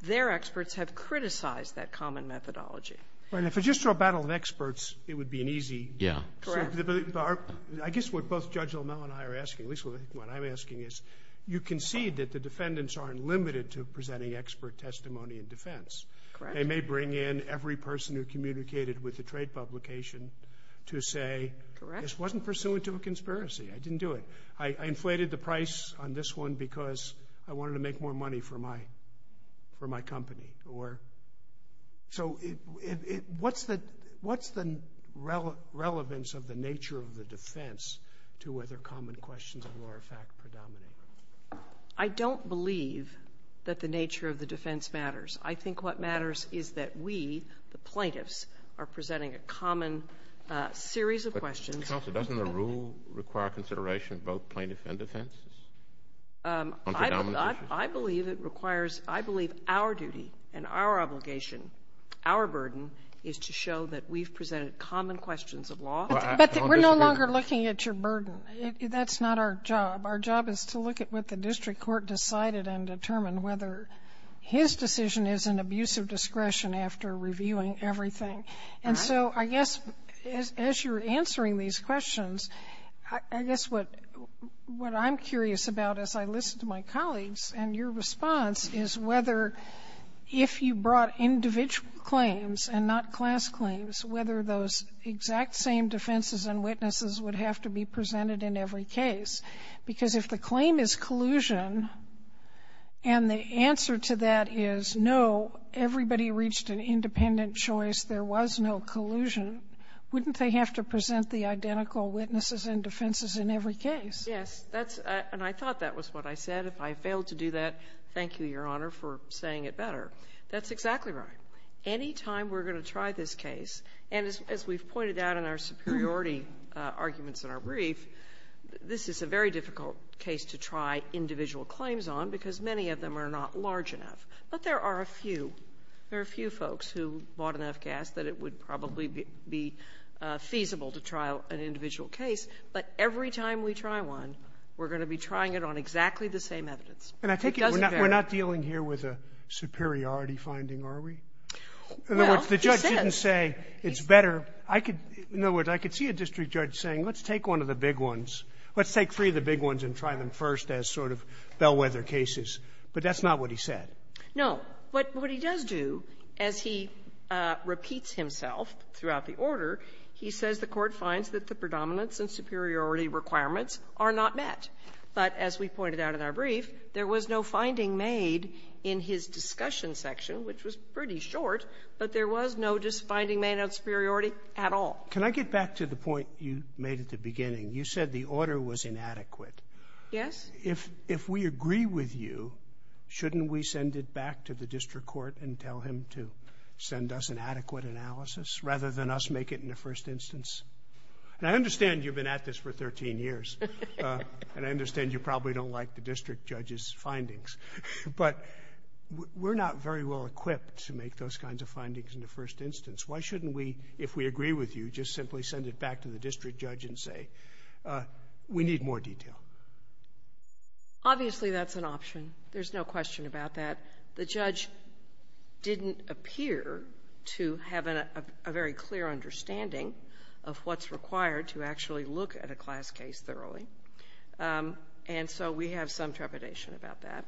Their experts have criticized that common methodology. But if it's just a battle of experts, it would be an easy... Yeah. I guess what both Judge O'Mell and I are asking, at least what I'm asking is, you concede that the defendants aren't limited to presenting expert testimony in defense. They may bring in every person who communicated with the trade publication to say, this wasn't pursuant to a conspiracy. I didn't do it. I inflated the price on this one because I wanted to make more money for my company. So what's the relevance of the nature of the defense to other common questions of law-of-fact predominance? I don't believe that the nature of the defense matters. I think what matters is that we, the plaintiffs, are presenting a common series of questions. Counselor, doesn't the rule require consideration of both plaintiffs and defense? I believe it requires, I believe our duty and our obligation, our burden, is to show that we've presented common questions of law. We're no longer looking at your burden. That's not our job. Our job is to look at what the district court decided and determine whether his decision is an abuse of discretion after reviewing everything. And so I guess as you're answering these questions, I guess what I'm curious about as I listen to my colleagues and your response is whether if you brought individual claims and not class claims, whether those exact same defenses and witnesses would have to be presented in every case. Because if the claim is collusion and the answer to that is no, everybody reached an independent choice, there was no collusion, wouldn't they have to present the identical witnesses and defenses in every case? Yes, and I thought that was what I said. If I failed to do that, thank you, Your Honor, for saying it better. That's exactly right. Any time we're going to try this case, and as we've pointed out in our superiority arguments in our brief, this is a very difficult case to try individual claims on because many of them are not large enough. But there are a few. There are a few folks who bought enough gas that it would probably be feasible to trial an individual case. But every time we try one, we're going to be trying it on exactly the same evidence. And I think we're not dealing here with a superiority finding, are we? In other words, the judge didn't say it's better. In other words, I could see a district judge saying let's take one of the big ones, let's take three of the big ones and try them first as sort of bellwether cases. But that's not what he said. No, but what he does do as he repeats himself throughout the order, he says the court finds that the predominance and superiority requirements are not met. But as we pointed out in our brief, there was no finding made in his discussion section, which was pretty short, but there was no just finding made of superiority at all. Can I get back to the point you made at the beginning? You said the order was inadequate. Yes. If we agree with you, shouldn't we send it back to the district court and tell him to send us an adequate analysis rather than us make it in the first instance? I understand you've been at this for 13 years, and I understand you probably don't like the district judge's findings. But we're not very well equipped to make those kinds of findings in the first instance. Why shouldn't we, if we agree with you, just simply send it back to the district judge and say, we need more detail? Obviously, that's an option. There's no question about that. The judge didn't appear to have a very clear understanding of what's required to actually look at a class case thoroughly, and so we have some trepidation about that.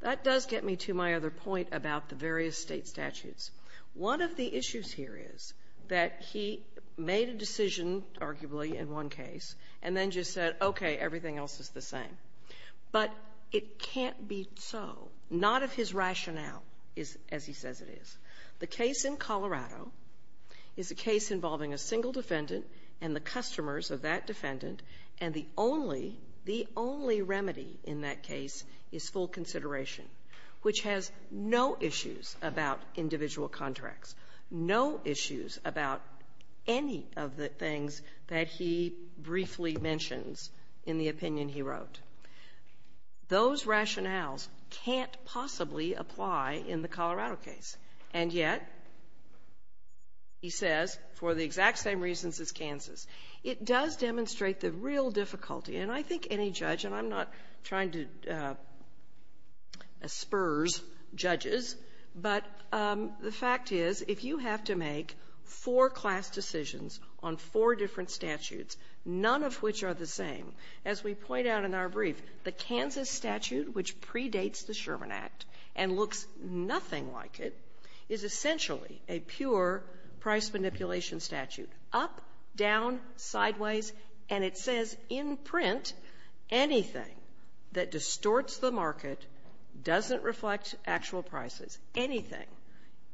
That does get me to my other point about the various state statutes. One of the issues here is that he made a decision, arguably, in one case, and then just said, okay, everything else is the same. But it can't be so, not if his rationale is as he says it is. The case in Colorado is a case involving a single defendant and the customers of that defendant, and the only remedy in that case is full consideration, which has no issues about individual contracts, no issues about any of the things that he briefly mentions in the opinion he wrote. Those rationales can't possibly apply in the Colorado case, and yet, he says, for the exact same reasons as Kansas. It does demonstrate the real difficulty, and I think any judge, and I'm not trying to spurs judges, but the fact is if you have to make four class decisions on four different statutes, none of which are the same, as we point out in our brief, the Kansas statute, which predates the Sherman Act and looks nothing like it, is essentially a pure price manipulation statute, up, down, sideways, and it says in print, anything that distorts the market doesn't reflect actual prices. Anything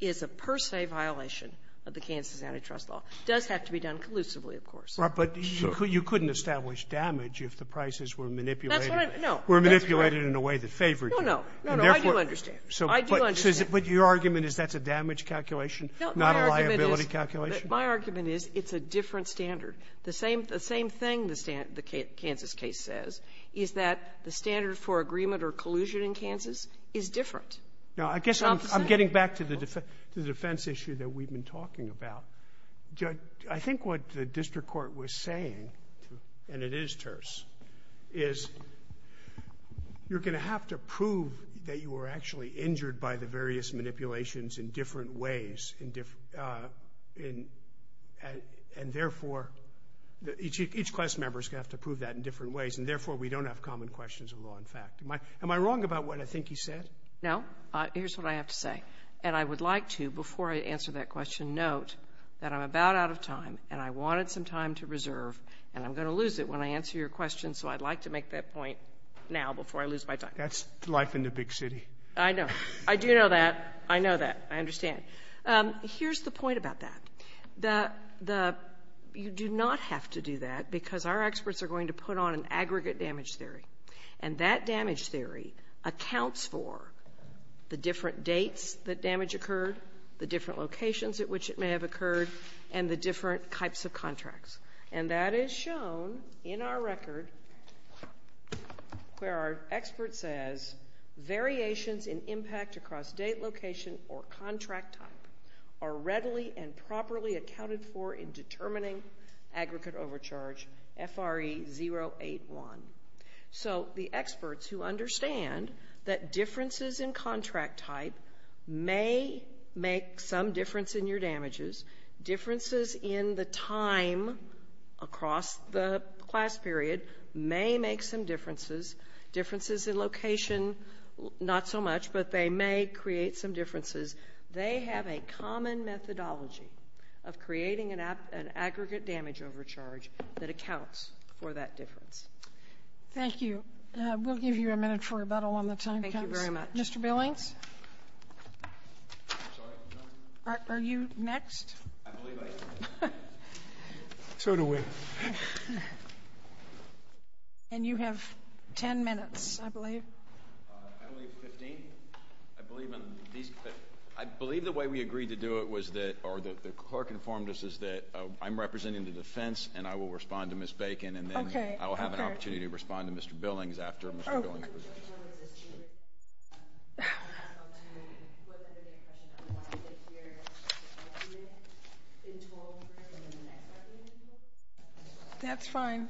is a per se violation of the Kansas antitrust law. It does have to be done collusively, of course. But you couldn't establish damage if the prices were manipulated in a way that favored it. No, no. I do understand. I do understand. But your argument is that's a damage calculation, not a liability calculation? My argument is it's a different standard. The same thing the Kansas case says is that the standard for agreement or collusion in Kansas is different. Now, I guess I'm getting back to the defense issue that we've been talking about. Judge, I think what the district court was saying, and it is terse, is you're going to have to prove that you were actually injured by the various manipulations in different ways, and therefore each class member is going to have to prove that in different ways, and therefore we don't have common questions of law and fact. Am I wrong about what I think you said? No. Here's what I have to say, and I would like to, before I answer that question, note that I'm about out of time, and I wanted some time to reserve, and I'm going to lose it when I answer your question, so I'd like to make that point now before I lose my time. That's life in the big city. I know. I do know that. I know that. I understand. Here's the point about that. You do not have to do that, because our experts are going to put on an aggregate damage theory, and that damage theory accounts for the different dates that damage occurred, the different locations at which it may have occurred, and the different types of contracts, and that is shown in our record where our expert says, Variations in impact across date, location, or contract type are readily and properly accounted for in determining aggregate overcharge, FRE 081. So the experts who understand that differences in contract type may make some difference in your damages. Differences in the time across the class period may make some differences. Differences in location, not so much, but they may create some differences. They have a common methodology of creating an aggregate damage overcharge that accounts for that difference. Thank you. We'll give you a minute for rebuttal on the time. Thank you very much. Mr. Billings? Are you next? I believe I am. So do we. And you have 10 minutes, I believe. I believe 15. I believe the way we agreed to do it was that, or the clerk informed us, is that I'm representing the defense, and I will respond to Ms. Bacon, and then I'll have an opportunity to respond to Mr. Billings after Mr. Billings. That's fine.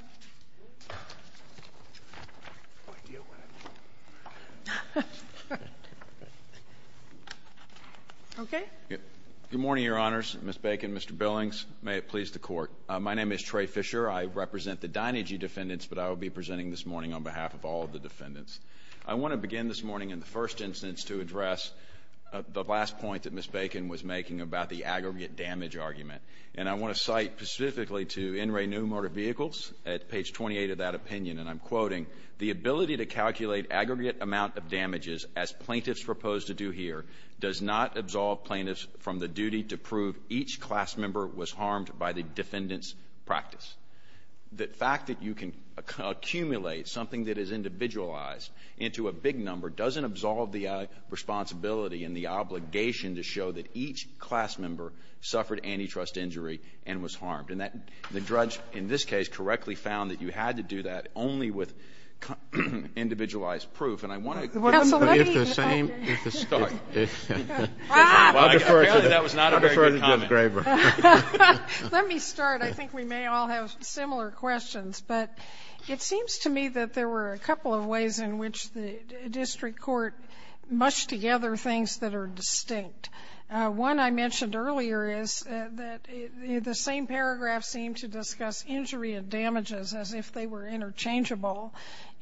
Okay. Good morning, Your Honors. Ms. Bacon, Mr. Billings, may it please the Court. My name is Trey Fisher. I represent the Dinegy defendants, but I will be presenting this morning on behalf of all of the defendants. I want to begin this morning, in the first instance, to address the last point that Ms. Bacon was making about the aggregate damage argument, and I want to cite specifically to NRA New Motor Vehicles at page 28 of that opinion, and I'm quoting, the ability to calculate aggregate amount of damages, as plaintiffs propose to do here, does not absolve plaintiffs from the duty to prove each class member was harmed by the defendant's practice. The fact that you can accumulate something that is individualized into a big number doesn't absolve the responsibility and the obligation to show that each class member suffered antitrust injury and was harmed. And the judge, in this case, correctly found that you had to do that only with individualized proof, and I want to... I'll defer to Jim Graber. Let me start. I think we may all have similar questions, but it seems to me that there were a couple of ways in which the district court mushed together things that are distinct. One I mentioned earlier is that the same paragraph seemed to discuss injury and damages as if they were interchangeable,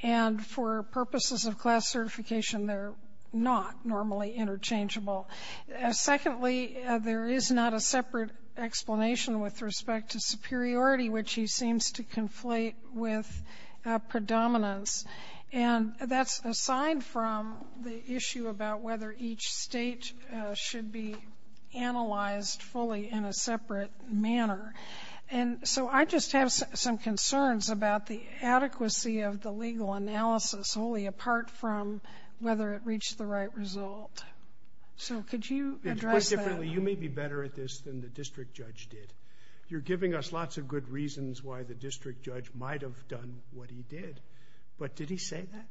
and for purposes of class certification, they're not normally interchangeable. Secondly, there is not a separate explanation with respect to superiority, which he seems to conflate with predominance, and that's aside from the issue about whether each state should be analyzed fully in a separate manner. And so I just have some concerns about the adequacy of the legal analysis only apart from whether it reached the right result. So could you address that? You may be better at this than the district judge did. You're giving us lots of good reasons why the district judge might have done what he did, but did he say that?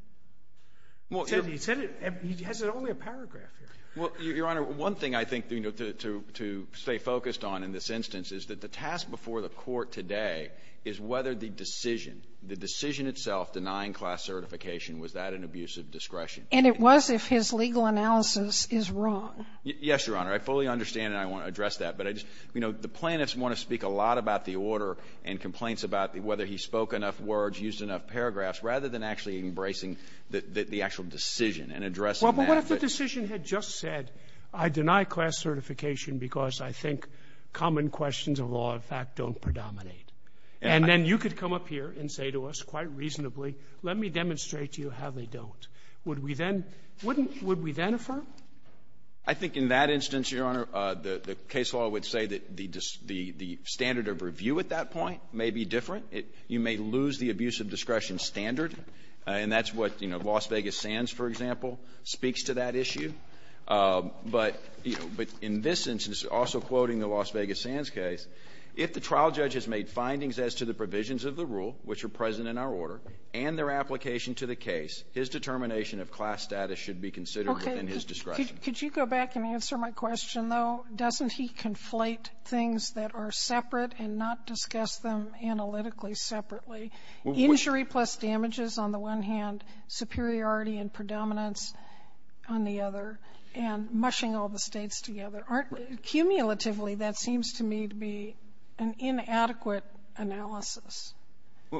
He has only a paragraph here. Well, Your Honor, one thing I think to stay focused on in this instance is that the task before the court today is whether the decision, the decision itself denying class certification, was that an abuse of discretion. And it was if his legal analysis is wrong. Yes, Your Honor. I fully understand, and I want to address that. But the plaintiffs want to speak a lot about the order and complaints about whether he spoke enough words, used enough paragraphs, rather than actually embracing the actual decision and addressing that. If the decision had just said, I deny class certification because I think common questions of law, in fact, don't predominate, and then you could come up here and say to us quite reasonably, let me demonstrate to you how they don't, would we then affirm? I think in that instance, Your Honor, the case law would say that the standard of review at that point may be different. You may lose the abuse of discretion standard, and that's what Las Vegas Sands, for example, speaks to that issue. But in this instance, also quoting the Las Vegas Sands case, if the trial judge has made findings as to the provisions of the rule, which are present in our order, and their application to the case, his determination of class status should be considered within his discretion. Could you go back and answer my question, though? Doesn't he conflate things that are separate and not discuss them analytically separately? Injury plus damages on the one hand, superiority and predominance on the other, and mushing all the states together. Cumulatively, that seems to me to be an inadequate analysis.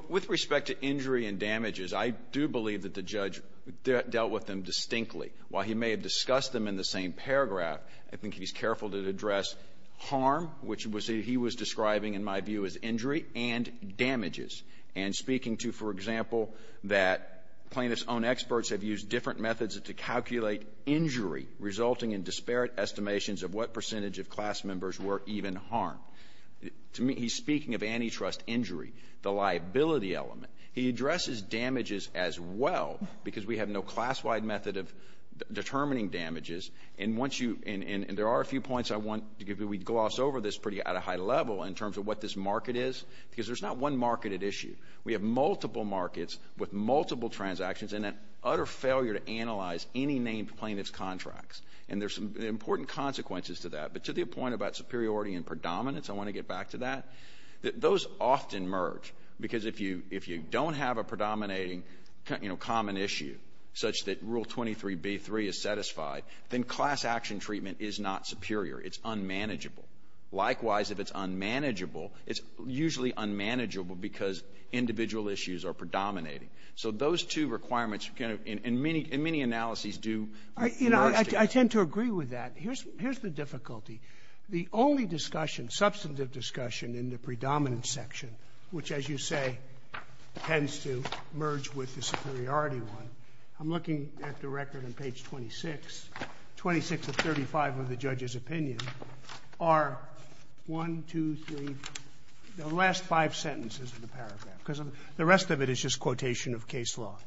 With respect to injury and damages, I do believe that the judge dealt with them distinctly. While he may have discussed them in the same paragraph, I think he's careful to address harm, which he was describing in my view as injury, and damages, and speaking to, for example, that plaintiffs' own experts have used different methods to calculate injury, resulting in disparate estimations of what percentage of class members were even harmed. He's speaking of antitrust injury, the liability element. He addresses damages as well, because we have no class-wide method of determining damages. And there are a few points I want to give you. We gloss over this at a pretty high level in terms of what this market is, because there's not one market at issue. We have multiple markets with multiple transactions and an utter failure to analyze any named plaintiff's contracts. And there are some important consequences to that. But to the point about superiority and predominance, I want to get back to that. Those often merge, because if you don't have a predominating common issue, such that Rule 23b-3 is satisfied, then class-action treatment is not superior. It's unmanageable. Likewise, if it's unmanageable, it's usually unmanageable because individual issues are predominating. So those two requirements, in many analyses, do work together. I tend to agree with that. Here's the difficulty. The only substantive discussion in the predominant section, which, as you say, tends to merge with the superiority one, I'm looking at the record on page 26. 26 of 35 of the judge's opinions are 1, 2, 3, the last five sentences of the paragraph, because the rest of it is just quotation of case law.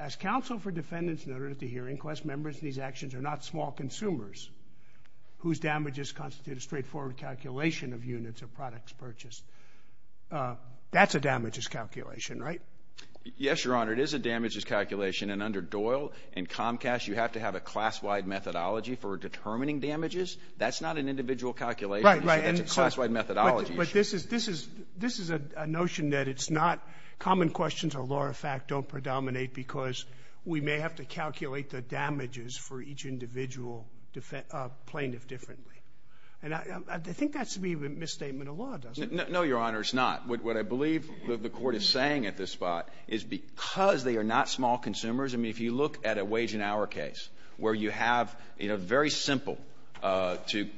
As counsel for defendants in order to hear inquest, members of these actions are not small consumers whose damages constitute a straightforward calculation of units or products purchased. That's a damages calculation, right? Yes, Your Honor. It is a damages calculation. And under Doyle and Comcast, you have to have a class-wide methodology for determining damages. That's not an individual calculation. Right, right. It's a class-wide methodology. But this is a notion that it's not common questions or law of fact don't predominate because we may have to calculate the damages for each individual plaintiff differently. And I think that should be the misstatement of law, doesn't it? No, Your Honor, it's not. What I believe that the Court is saying at this spot is because they are not small consumers, I mean, if you look at a wage and hour case where you have, you know, very simple to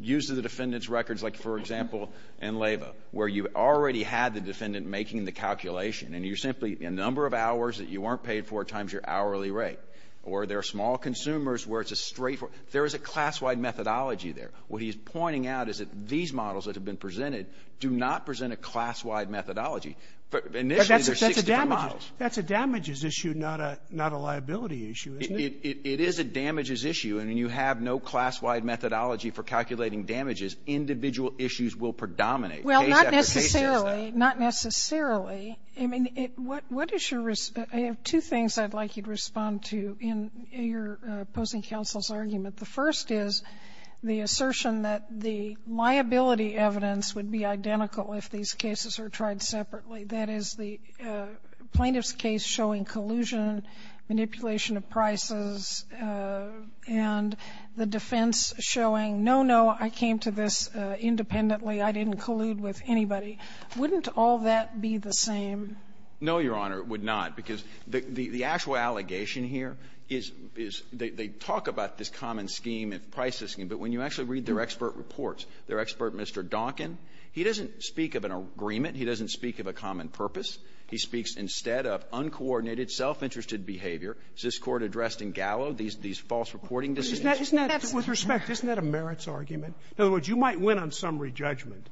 use the defendant's records, like, for example, in LABA, where you've already had the defendant making the calculation, and you're simply a number of hours that you weren't paid for times your hourly rate. Or there are small consumers where it's a straightforward. There is a class-wide methodology there. What he's pointing out is that these models that have been presented do not present a class-wide methodology. But initially there are 16 models. That's a damages issue, not a liability issue, isn't it? It is a damages issue, and you have no class-wide methodology for calculating damages. Individual issues will predominate. Well, not necessarily. Not necessarily. I mean, what is your response? I have two things I'd like you to respond to in your opposing counsel's argument. The first is the assertion that the liability evidence would be identical if these cases are tried separately. That is, the plaintiff's case showing collusion, manipulation of prices, and the defense showing, no, no, I came to this independently. I didn't collude with anybody. Wouldn't all that be the same? No, Your Honor, it would not. Because the actual allegation here is they talk about this common scheme of pricing, but when you actually read their expert reports, their expert Mr. Donkin, he doesn't speak of an agreement. He doesn't speak of a common purpose. He speaks instead of uncoordinated, self-interested behavior. This Court addressed in Gallo these false reporting decisions. With respect, isn't that a merits argument? In other words, you might win on summary judgment.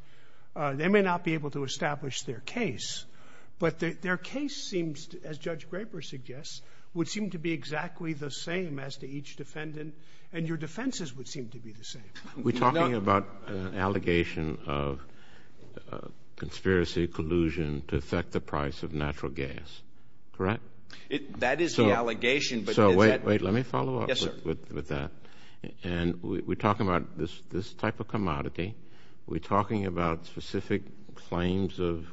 They may not be able to establish their case. But their case seems, as Judge Graper suggests, would seem to be exactly the same as to each defendant, and your defenses would seem to be the same. We're talking about an allegation of conspiracy, collusion to affect the price of natural gas, correct? That is the allegation. So wait, wait, let me follow up with that. And we're talking about this type of commodity. We're talking about specific claims of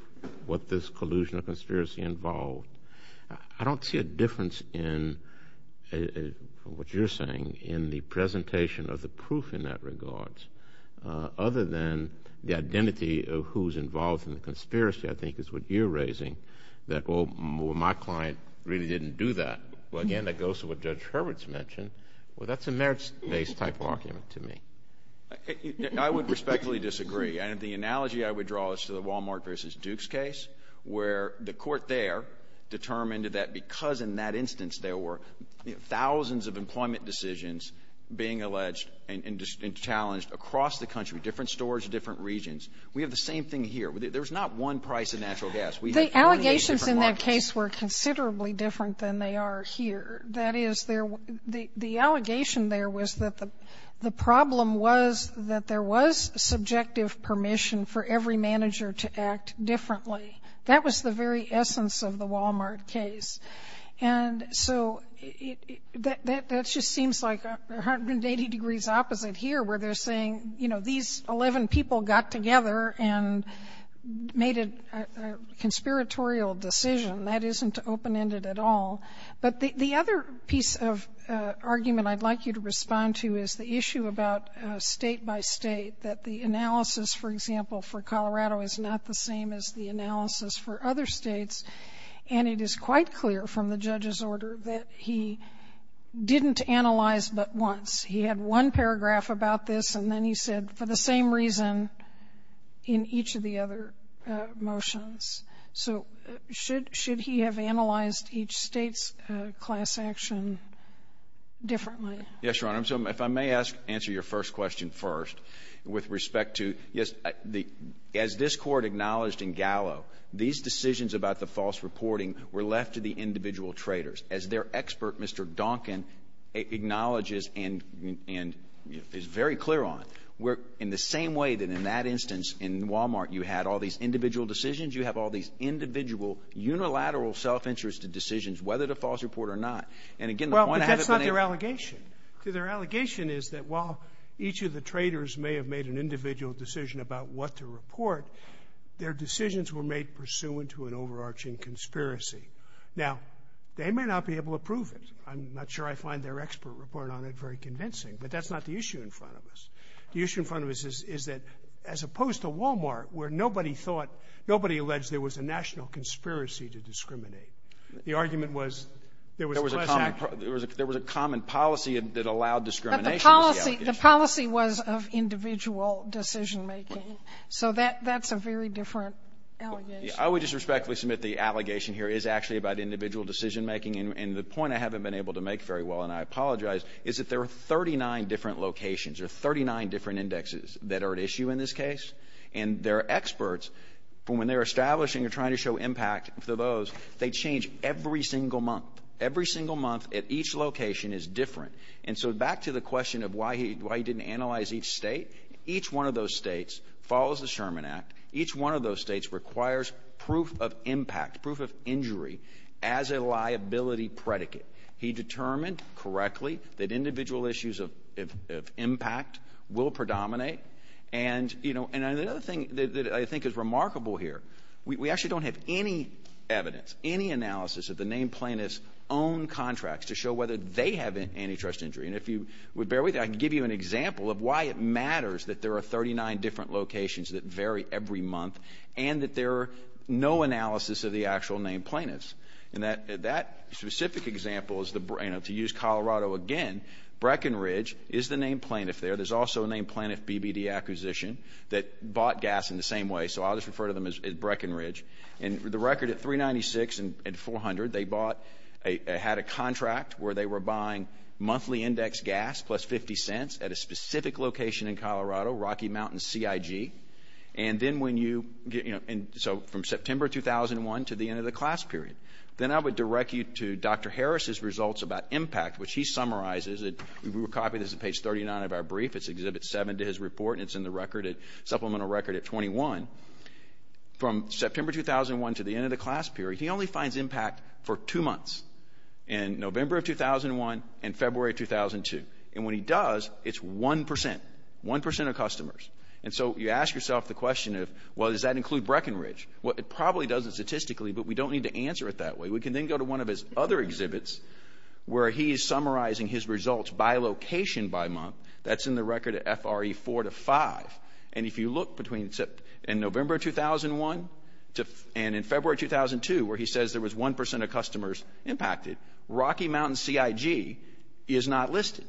what this collusion or conspiracy involved. I don't see a difference in what you're saying in the presentation of the proof in that regards, other than the identity of who's involved in the conspiracy, I think is what you're raising, that, oh, my client really didn't do that. Well, again, that goes to what Judge Hurwitz mentioned. Well, that's a merits-based type argument to me. I would respectfully disagree. And the analogy I would draw is to the Walmart v. Dukes case, where the court there determined that because in that instance there were thousands of employment decisions being alleged and challenged across the country, different stores, different regions. We have the same thing here. There's not one price of natural gas. The allegations in that case were considerably different than they are here. The allegation there was that the problem was that there was subjective permission for every manager to act differently. That was the very essence of the Walmart case. And so that just seems like 180 degrees opposite here, where they're saying, you know, these 11 people got together and made a conspiratorial decision. That isn't open-ended at all. But the other piece of argument I'd like you to respond to is the issue about state-by-state, that the analysis, for example, for Colorado is not the same as the analysis for other states. And it is quite clear from the judge's order that he didn't analyze but once. He had one paragraph about this, and then he said, for the same reason in each of the other motions. So should he have analyzed each state's class action differently? Yes, Your Honor. If I may answer your first question first with respect to, yes, as this court acknowledged in Gallo, these decisions about the false reporting were left to the individual traders. As their expert, Mr. Duncan, acknowledges and is very clear on, in the same way that in that instance in Walmart you had all these individual decisions, you have all these individual, unilateral, self-interested decisions, whether to false report or not. And again, the point I have is when they- Well, but that's not their allegation. Their allegation is that while each of the traders may have made an individual decision about what to report, their decisions were made pursuant to an overarching conspiracy. Now, they may not be able to prove it. I'm not sure I find their expert report on it very convincing. But that's not the issue in front of us. The issue in front of us is that as opposed to Walmart, where nobody thought, nobody alleged there was a national conspiracy to discriminate, the argument was there was a- There was a common policy that allowed discrimination. But the policy was of individual decision-making. So that's a very different allegation. I would just respectfully submit the allegation here is actually about individual decision-making. And the point I haven't been able to make very well, and I apologize, is that there are 39 different locations or 39 different indexes that are at issue in this case. And their experts, when they're establishing or trying to show impact to those, they change every single month. Every single month at each location is different. And so back to the question of why he didn't analyze each state, each one of those states follows the Sherman Act. Each one of those states requires proof of impact, proof of injury as a liability predicate. He determined correctly that individual issues of impact will predominate. And another thing that I think is remarkable here, we actually don't have any evidence, any analysis of the named plaintiffs' own contracts to show whether they have antitrust injury. And if you would bear with me, I can give you an example of why it matters that there are 39 different locations that vary every month and that there are no analysis of the actual named plaintiffs. And that specific example is to use Colorado again. Breckenridge is the named plaintiff there. There's also a named plaintiff BBD acquisition that bought gas in the same way, so I'll just refer to them as Breckenridge. And the record at 396 and 400, they had a contract where they were buying monthly index gas plus 50 cents at a specific location in Colorado, Rocky Mountain CIG. And so from September 2001 to the end of the class period, then I would direct you to Dr. Harris's results about impact, which he summarizes. We will copy this to page 39 of our brief. It's Exhibit 7 to his report, and it's in the supplemental record at 21. From September 2001 to the end of the class period, he only finds impact for two months, in November of 2001 and February of 2002. And when he does, it's 1%, 1% of customers. And so you ask yourself the question of, well, does that include Breckenridge? Well, it probably doesn't statistically, but we don't need to answer it that way. We can then go to one of his other exhibits where he is summarizing his results by location by month. That's in the record at FRE 4 to 5. And if you look between November 2001 and in February 2002, where he says there was 1% of customers impacted, Rocky Mountain CIG is not listed.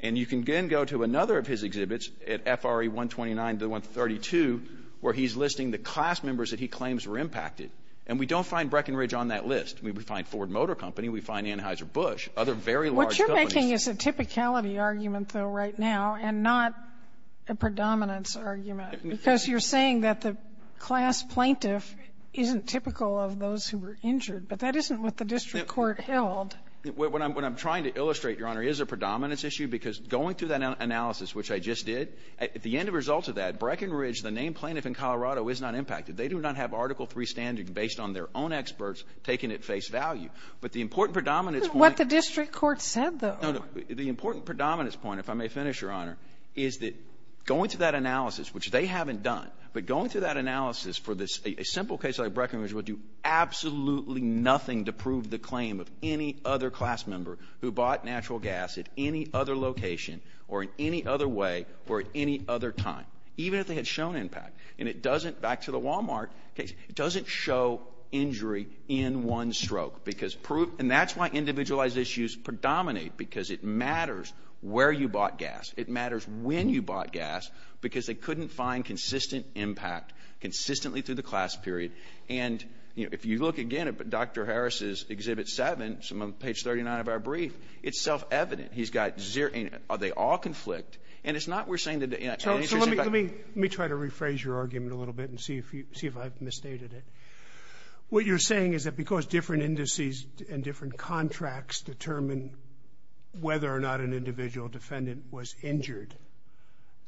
And you can then go to another of his exhibits at FRE 129 to 132, where he's listing the class members that he claims were impacted. And we don't find Breckenridge on that list. We find Ford Motor Company, we find Anheuser-Busch, other very large companies. What you're making is a typicality argument, though, right now, and not a predominance argument. Because you're saying that the class plaintiff isn't typical of those who were injured, but that isn't what the district court held. What I'm trying to illustrate, Your Honor, is a predominance issue, because going through that analysis, which I just did, at the end of results of that, Breckenridge, the named plaintiff in Colorado, is not impacted. They do not have Article III standing based on their own experts taking it at face value. But the important predominance point— What the district court said, though. The important predominance point, if I may finish, Your Honor, is that going through that analysis, which they haven't done, but going through that analysis for a simple case like Breckenridge will do absolutely nothing to prove the claim of any other class member who bought natural gas at any other location or in any other way or at any other time, even if they had shown impact. And it doesn't—back to the Wal-Mart case—it doesn't show injury in one stroke. And that's why individualized issues predominate, because it matters where you bought gas. It matters when you bought gas, because they couldn't find consistent impact consistently through the class period. And, you know, if you look again at Dr. Harris's Exhibit 7, page 39 of our brief, it's self-evident. He's got zero—they all conflict. And it's not worth saying that the answer— Let me try to rephrase your argument a little bit and see if I've misstated it. What you're saying is that because different indices and different contracts determine whether or not an individual defendant was injured,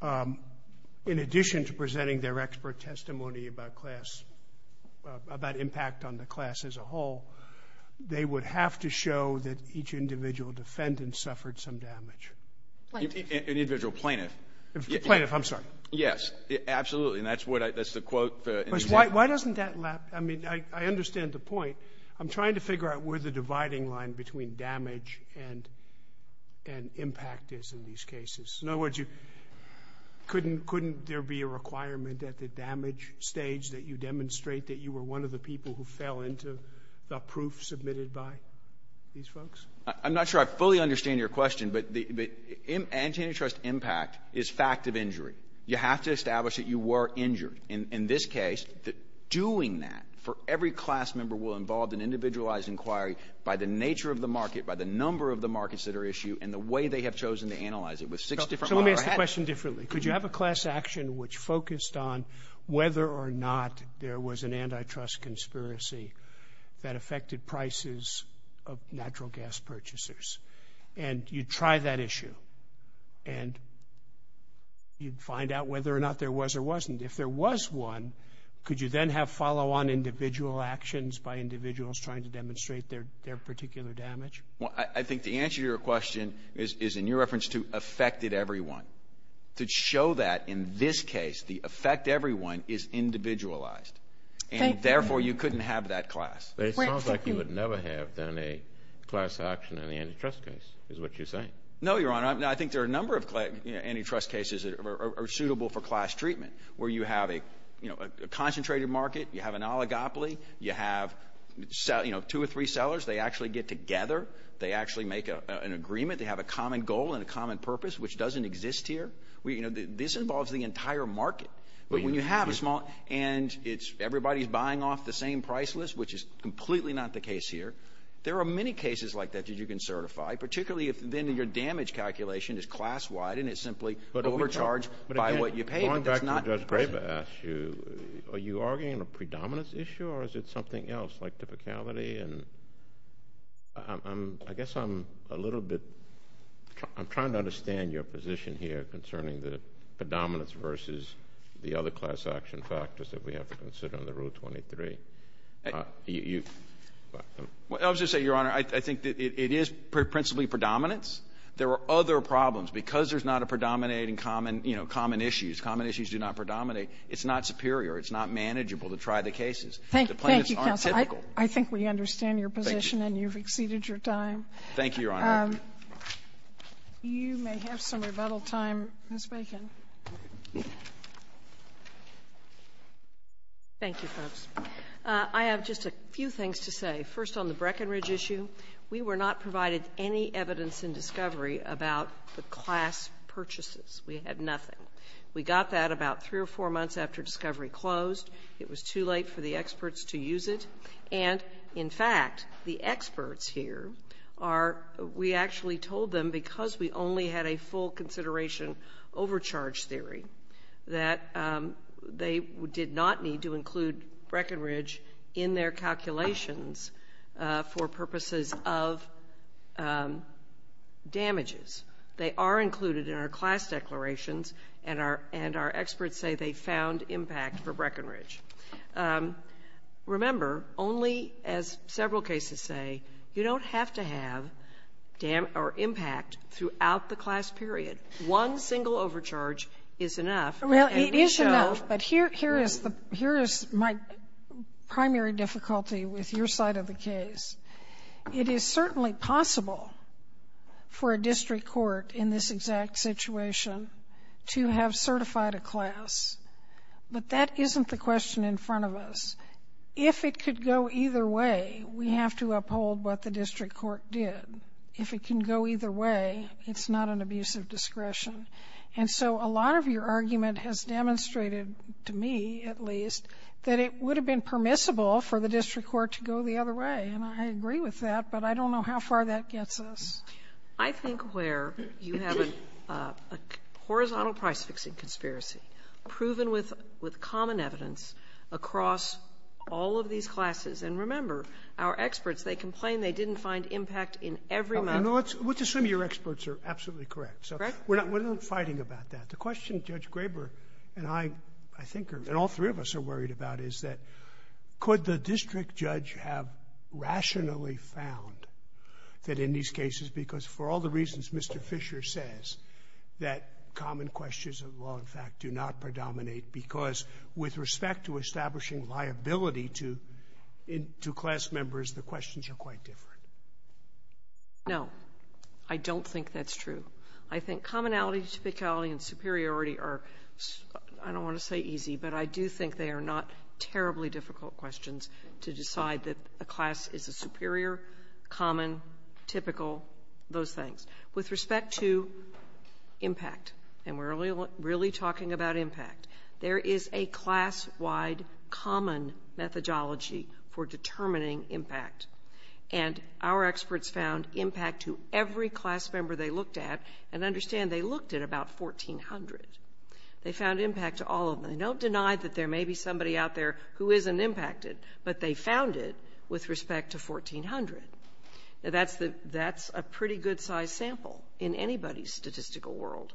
in addition to presenting their expert testimony about class— about impact on the class as a whole, they would have to show that each individual defendant suffered some damage. An individual plaintiff. Plaintiff, I'm sorry. Yes, absolutely. And that's what—that's the quote— Why doesn't that—I mean, I understand the point. I'm trying to figure out where the dividing line between damage and impact is in these cases. In other words, couldn't there be a requirement at the damage stage that you demonstrate that you were one of the people who fell into the proof submitted by these folks? I'm not sure I fully understand your question, but the antitrust impact is fact of injury. You have to establish that you were injured. In this case, doing that for every class member will involve an individualized inquiry by the nature of the market, by the number of the markets that are issued, and the way they have chosen to analyze it with six different— So let me ask the question differently. Could you have a class action which focused on whether or not there was an antitrust conspiracy that affected prices of natural gas purchasers? And you'd try that issue, and you'd find out whether or not there was or wasn't. If there was one, could you then have follow-on individual actions by individuals trying to demonstrate their particular damage? Well, I think the answer to your question is in your reference to affected everyone. To show that in this case, the affect everyone is individualized, and therefore you couldn't have that class. It sounds like you would never have done a class action on the antitrust case is what you're saying. No, Your Honor. I think there are a number of antitrust cases that are suitable for class treatment where you have a concentrated market, you have an oligopoly, you have two or three sellers. They actually get together. They actually make an agreement. They have a common goal and a common purpose, which doesn't exist here. This involves the entire market. But when you have a small—and everybody's buying off the same price list, which is completely not the case here. There are many cases like that that you can certify, particularly if then your damage calculation is class-wide, and it's simply overcharged by what you paid. Going back to what Judge Graber asked you, are you arguing a predominance issue or is it something else like difficulty? I guess I'm a little bit—I'm trying to understand your position here concerning the predominance versus the other class action factors that we have to consider under Rule 23. I'll just say, Your Honor, I think that it is principally predominance. There are other problems. Because there's not a predominating common issue, common issues do not predominate. It's not superior. It's not manageable to try the cases. The plaintiffs aren't typical. Thank you, counsel. I think we understand your position and you've exceeded your time. Thank you, Your Honor. You may have some rebuttal time. Ms. Bacon. Thank you, folks. I have just a few things to say. First on the Breckenridge issue, we were not provided any evidence in discovery about the class purchases. We had nothing. We got that about three or four months after discovery closed. It was too late for the experts to use it. And, in fact, the experts here are—we actually told them, because we only had a full consideration overcharge theory, that they did not need to include Breckenridge in their calculations for purposes of damages. They are included in our class declarations, and our experts say they found impact for Breckenridge. Remember, only, as several cases say, you don't have to have impact throughout the class period. One single overcharge is enough. It is enough, but here is my primary difficulty with your side of the case. It is certainly possible for a district court in this exact situation to have certified a class, but that isn't the question in front of us. If it could go either way, we have to uphold what the district court did. If it can go either way, it's not an abuse of discretion. And so a lot of your argument has demonstrated, to me at least, that it would have been permissible for the district court to go the other way, and I agree with that, but I don't know how far that gets us. I think, Claire, you have a horizontal price-fixing conspiracy, proven with common evidence across all of these classes. And remember, our experts, they complain they didn't find impact in every one. Let's assume your experts are absolutely correct. We're not fighting about that. The question Judge Graber and I, I think, and all three of us are worried about, is that could the district judge have rationally found that in these cases, because for all the reasons Mr. Fisher says, that common questions of law, in fact, do not predominate, because with respect to establishing liability to class members, the questions are quite different. No, I don't think that's true. I think commonality, typicality, and superiority are, I don't want to say easy, but I do think they are not terribly difficult questions to decide that a class is a superior, common, typical, those things. With respect to impact, and we're really talking about impact, there is a class-wide common methodology for determining impact. And our experts found impact to every class member they looked at, and understand they looked at about 1,400. They found impact to all of them. I don't deny that there may be somebody out there who isn't impacted, but they found it with respect to 1,400. That's a pretty good-sized sample in anybody's statistical world.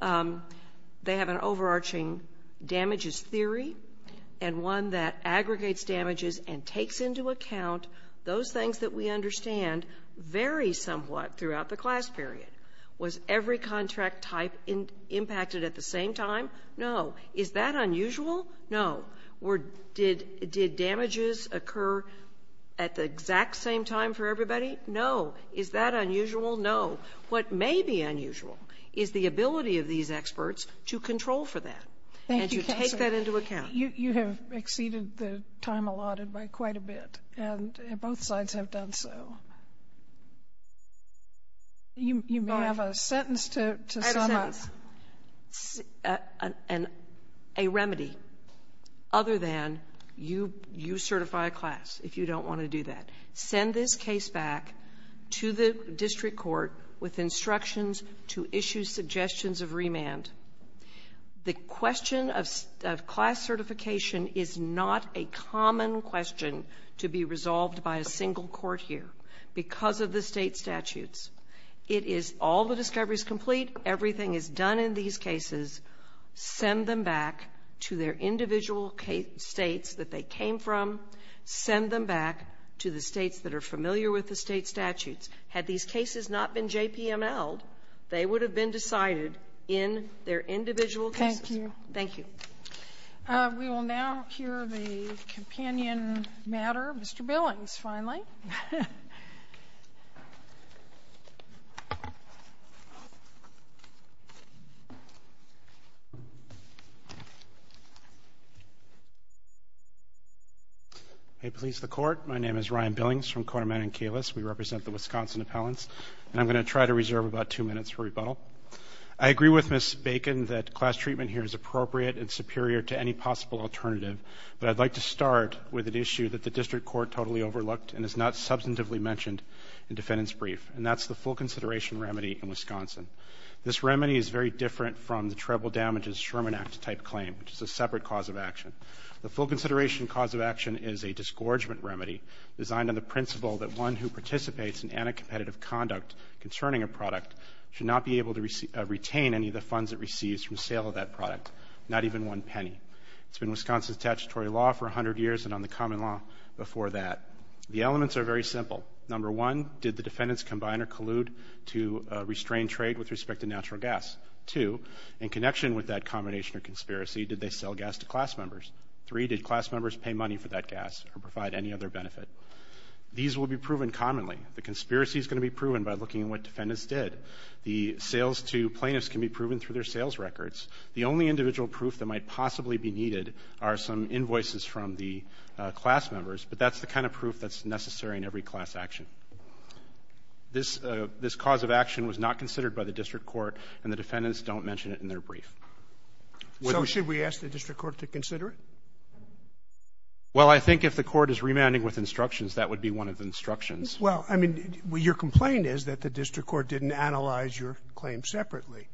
They have an overarching damages theory, and one that aggregates damages and takes into account those things that we understand vary somewhat throughout the class period. Was every contract type impacted at the same time? No. Is that unusual? No. Did damages occur at the exact same time for everybody? No. Is that unusual? No. What may be unusual is the ability of these experts to control for that and to take that into account. You have exceeded the time allotted by quite a bit, and both sides have done so. You may have a sentence to sum up. A remedy other than you certify a class if you don't want to do that. Send this case back to the district court with instructions to issue suggestions of remand. The question of class certification is not a common question to be resolved by a single court here because of the state statutes. It is all the discoveries complete. Everything is done in these cases. Send them back to their individual states that they came from. Send them back to the states that are familiar with the state statutes. Had these cases not been JPML'd, they would have been decided in their individual cases. Thank you. Thank you. We will now hear the companion matter. Mr. Billings, finally. Hey, police, the court. My name is Ryan Billings from Korman and Kalis. We represent the Wisconsin appellants. I'm going to try to reserve about two minutes for rebuttal. I agree with Ms. Bacon that class treatment here is appropriate and superior to any possible alternative, but I'd like to start with an issue that the district court totally overlooked and is not substantively mentioned in defendant's brief, and that's the full consideration remedy in Wisconsin. This remedy is very different from the treble damages Sherman Act type claim, which is a separate cause of action. The full consideration cause of action is a disgorgement remedy designed on the principle that one who participates in anti-competitive conduct concerning a product should not be able to retain any of the funds it receives from sale of that product, not even one penny. It's been Wisconsin's statutory law for 100 years and on the common law before that. The elements are very simple. Number one, did the defendants combine or collude to restrain trade with respect to natural gas? Two, in connection with that combination or conspiracy, did they sell gas to class members? Three, did class members pay money for that gas or provide any other benefit? These will be proven commonly. The conspiracy is going to be proven by looking at what defendants did. The sales to plaintiffs can be proven through their sales records. The only individual proof that might possibly be needed are some invoices from the class members, but that's the kind of proof that's necessary in every class action. This cause of action was not considered by the district court, and the defendants don't mention it in their brief. So should we ask the district court to consider it? Well, I think if the court is remanding with instructions, that would be one of the instructions. Well, I mean, your complaint is that the district court didn't analyze your claim separately.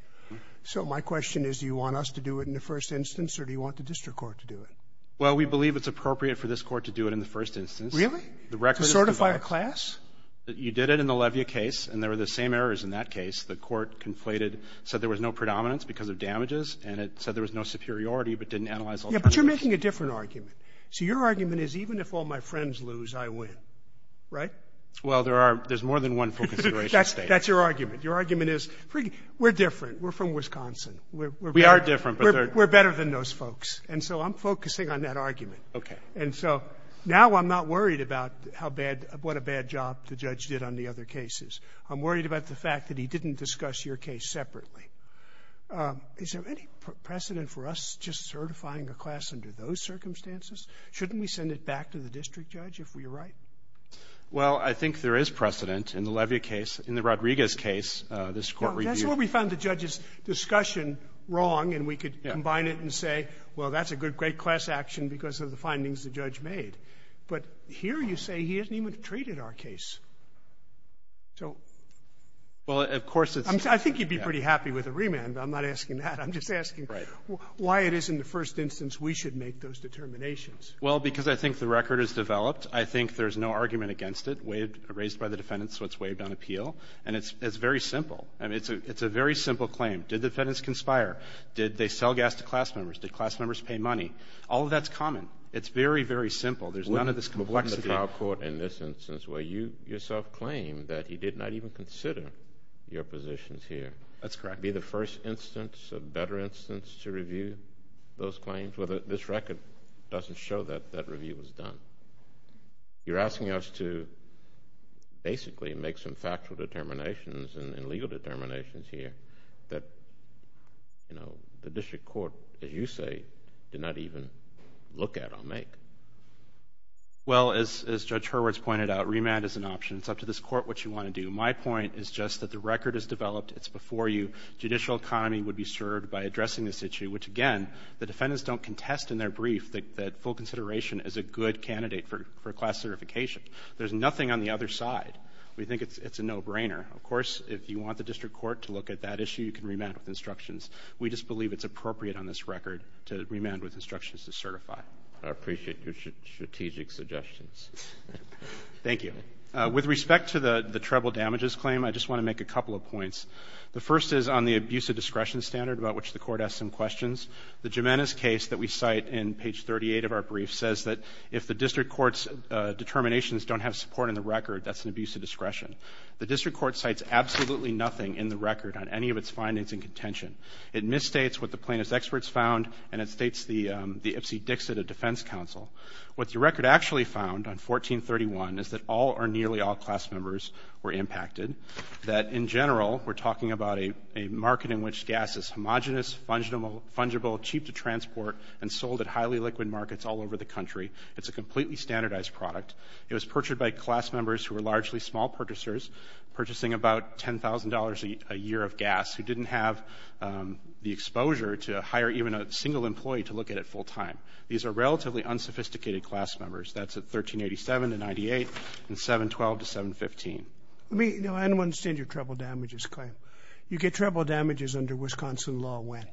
So my question is do you want us to do it in the first instance or do you want the district court to do it? Well, we believe it's appropriate for this court to do it in the first instance. Really? To certify a class? You did it in the Levia case, and there were the same errors in that case. The court conflated, said there was no predominance because of damages, and it said there was no superiority but didn't analyze all the evidence. Yeah, but you're making a different argument. So your argument is even if all my friends lose, I win, right? Well, there's more than one consideration. That's your argument. Your argument is we're different. We're from Wisconsin. We are different. We're better than those folks. And so I'm focusing on that argument. Okay. And so now I'm not worried about what a bad job the judge did on the other cases. I'm worried about the fact that he didn't discuss your case separately. Is there any precedent for us just certifying a class under those circumstances? Shouldn't we send it back to the district judge if we're right? Well, I think there is precedent in the Levia case, in the Rodriguez case. That's where we found the judge's discussion wrong, and we could combine it and say, well, that's a great class action because of the findings the judge made. But here you say he hasn't even treated our case. I think he'd be pretty happy with a remand. I'm not asking that. I'm just asking why it isn't the first instance we should make those determinations. Well, because I think the record is developed. I think there's no argument against it raised by the defendants, so it's waived on appeal. And it's very simple. I mean, it's a very simple claim. Did defendants conspire? Did they sell gas to class members? Did class members pay money? All of that's common. It's very, very simple. There's none of this complexity. In our court, in this instance, where you yourself claim that he did not even consider your positions here. That's correct. Be the first instance, a better instance, to review those claims? Well, this record doesn't show that that review was done. You're asking us to basically make some factual determinations and legal determinations here that, you know, the district court, as you say, did not even look at or make. Well, as Judge Hurwitz pointed out, remand is an option. It's up to this court what you want to do. My point is just that the record is developed. It's before you. Judicial economy would be served by addressing this issue, which, again, the defendants don't contest in their brief that full consideration is a good candidate for class certification. There's nothing on the other side. We think it's a no-brainer. Of course, if you want the district court to look at that issue, you can remand with instructions. We just believe it's appropriate on this record to remand with instructions to certify. I appreciate your strategic suggestions. Thank you. With respect to the treble damages claim, I just want to make a couple of points. The first is on the abuse of discretion standard about which the court asked some questions. The Jimenez case that we cite in page 38 of our brief says that if the district court's determinations don't have support in the record, that's an abuse of discretion. The district court cites absolutely nothing in the record on any of its findings in contention. It misstates what the plaintiff's experts found, and it states the FC Dixit of defense counsel. What the record actually found on 1431 is that all or nearly all class members were impacted, that in general we're talking about a market in which gas is homogenous, fungible, cheap to transport, and sold at highly liquid markets all over the country. It's a completely standardized product. It was purchased by class members who were largely small purchasers, purchasing about $10,000 a year of gas, who didn't have the exposure to hire even a single employee to look at it full time. These are relatively unsophisticated class members. That's at 1387 to 98 and 712 to 715. I don't understand your treble damages claim. You get treble damages under Wisconsin law when?